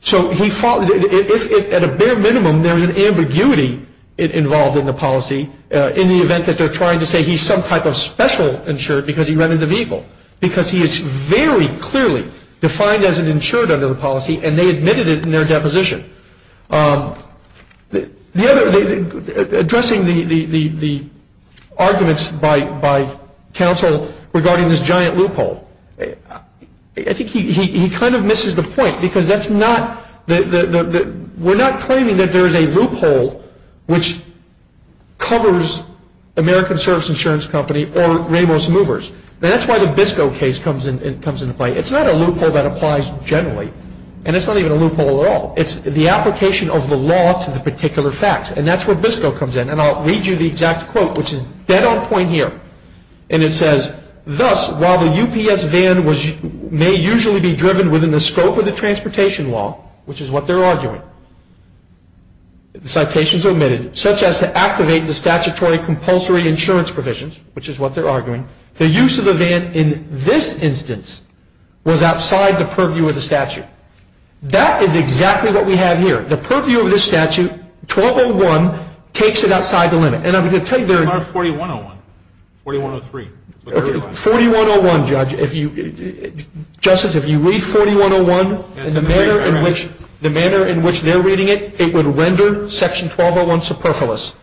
So at a bare minimum, there's an ambiguity involved in the policy in the event that they're trying to say he's some type of special insured because he rented the vehicle, because he is very clearly defined as an insured under the policy, and they admitted it in their deposition. Addressing the arguments by counsel regarding this giant loophole, I think he kind of misses the point because that's not, we're not claiming that there's a loophole which covers American Service Insurance Company or Ramos Movers. That's why the BISCO case comes into play. It's not a loophole that applies generally, and it's not even a loophole at all. It's the application of the law to the particular facts, and that's where BISCO comes in. And I'll read you the exact quote, which is dead on point here. And it says, thus, while the UPS van may usually be driven within the scope of the transportation law, which is what they're arguing, citations are omitted, such as to activate the statutory compulsory insurance provisions, which is what they're arguing, the use of the van in this instance was outside the purview of the statute. That is exactly what we have here. The purview of this statute, 1201, takes it outside the limit. It's not 4101. 4103. 4101, Judge. Justice, if you read 4101 in the manner in which they're reading it, it would render Section 1201 superfluous.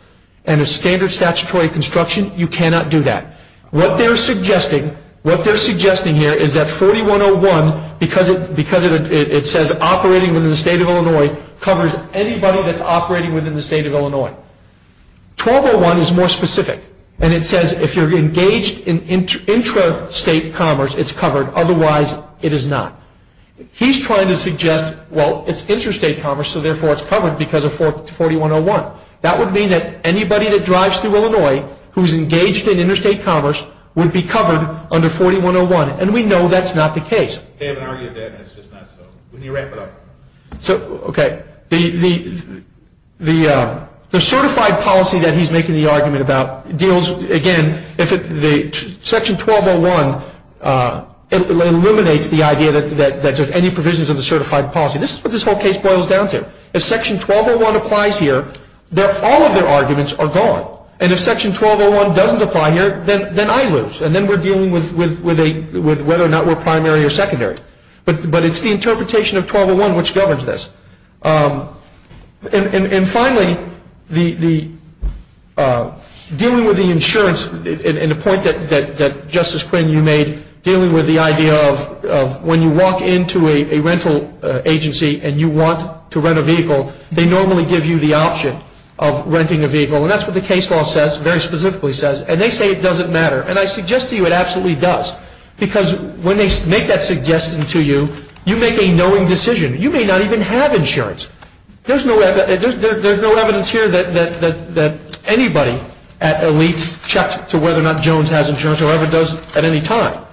And as standard statutory construction, you cannot do that. What they're suggesting here is that 4101, because it says operating within the state of Illinois, covers anybody that's operating within the state of Illinois. 1201 is more specific. And it says if you're engaged in intrastate commerce, it's covered. Otherwise, it is not. He's trying to suggest, well, it's intrastate commerce, so therefore it's covered because of 4101. That would mean that anybody that drives through Illinois who's engaged in interstate commerce would be covered under 4101. And we know that's not the case. They have argued that this is not so. Okay. The certified policy that he's making the argument about deals, again, Section 1201 eliminates the idea that there's any provisions of the certified policy. This is what this whole case boils down to. If Section 1201 applies here, all of their arguments are gone. And if Section 1201 doesn't apply here, then I lose. And then we're dealing with whether or not we're primary or secondary. But it's the interpretation of 1201 which governs this. And finally, dealing with the insurance, and the point that Justice Quinn, you made, dealing with the idea of when you walk into a rental agency and you want to rent a vehicle, they normally give you the option of renting a vehicle. And that's what the case law says, very specifically says. And they say it doesn't matter. And I suggest to you it absolutely does. Because when they make that suggestion to you, you make a knowing decision. You may not even have insurance. There's no evidence here that anybody at Elite checks to whether or not Jones has insurance or ever does at any time.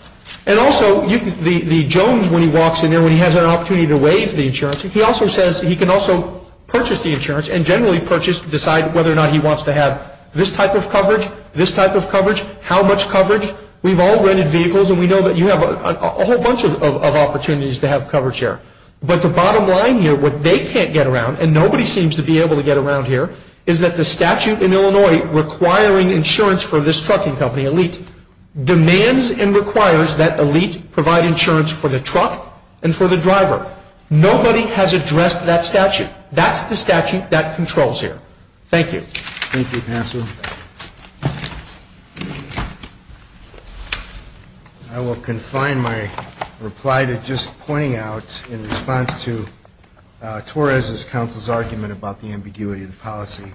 And also, the Jones, when he walks in there, when he has an opportunity to waive the insurance, he also says he can also purchase the insurance and generally purchase, decide whether or not he wants to have this type of coverage, this type of coverage, how much coverage. We've all rented vehicles and we know that you have a whole bunch of opportunities to have coverage here. But the bottom line here, what they can't get around, and nobody seems to be able to get around here, is that the statute in Illinois requiring insurance for this trucking company, Elite, demands and requires that Elite provide insurance for the truck and for the driver. Nobody has addressed that statute. That's the statute that controls here. Thank you. Thank you, Pastor. I will confine my reply to just pointing out in response to Torres' counsel's argument about the ambiguity of the policy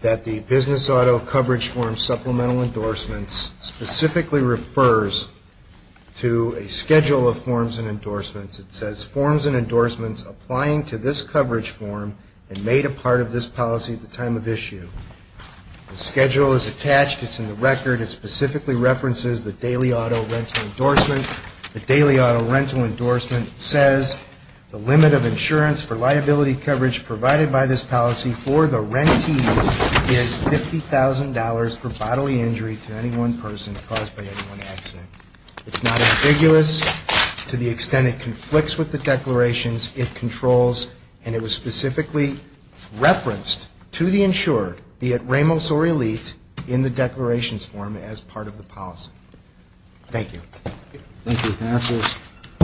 that the business auto coverage form supplemental endorsements specifically refers to a schedule of forms and endorsements. It says, forms and endorsements applying to this coverage form and made a part of this policy at the time of issue. The schedule is attached. It's in the record. It specifically references the daily auto rental endorsement. The daily auto rental endorsement says, the limit of insurance for liability coverage provided by this policy for the rentee is $50,000 for bodily injury to any one person caused by any one accident. It's not ambiguous to the extent it conflicts with the declarations it controls and it was specifically referenced to the insurer, be it Ramos or Elite, in the declarations form as part of the policy. Thank you. Thank you, Pastor.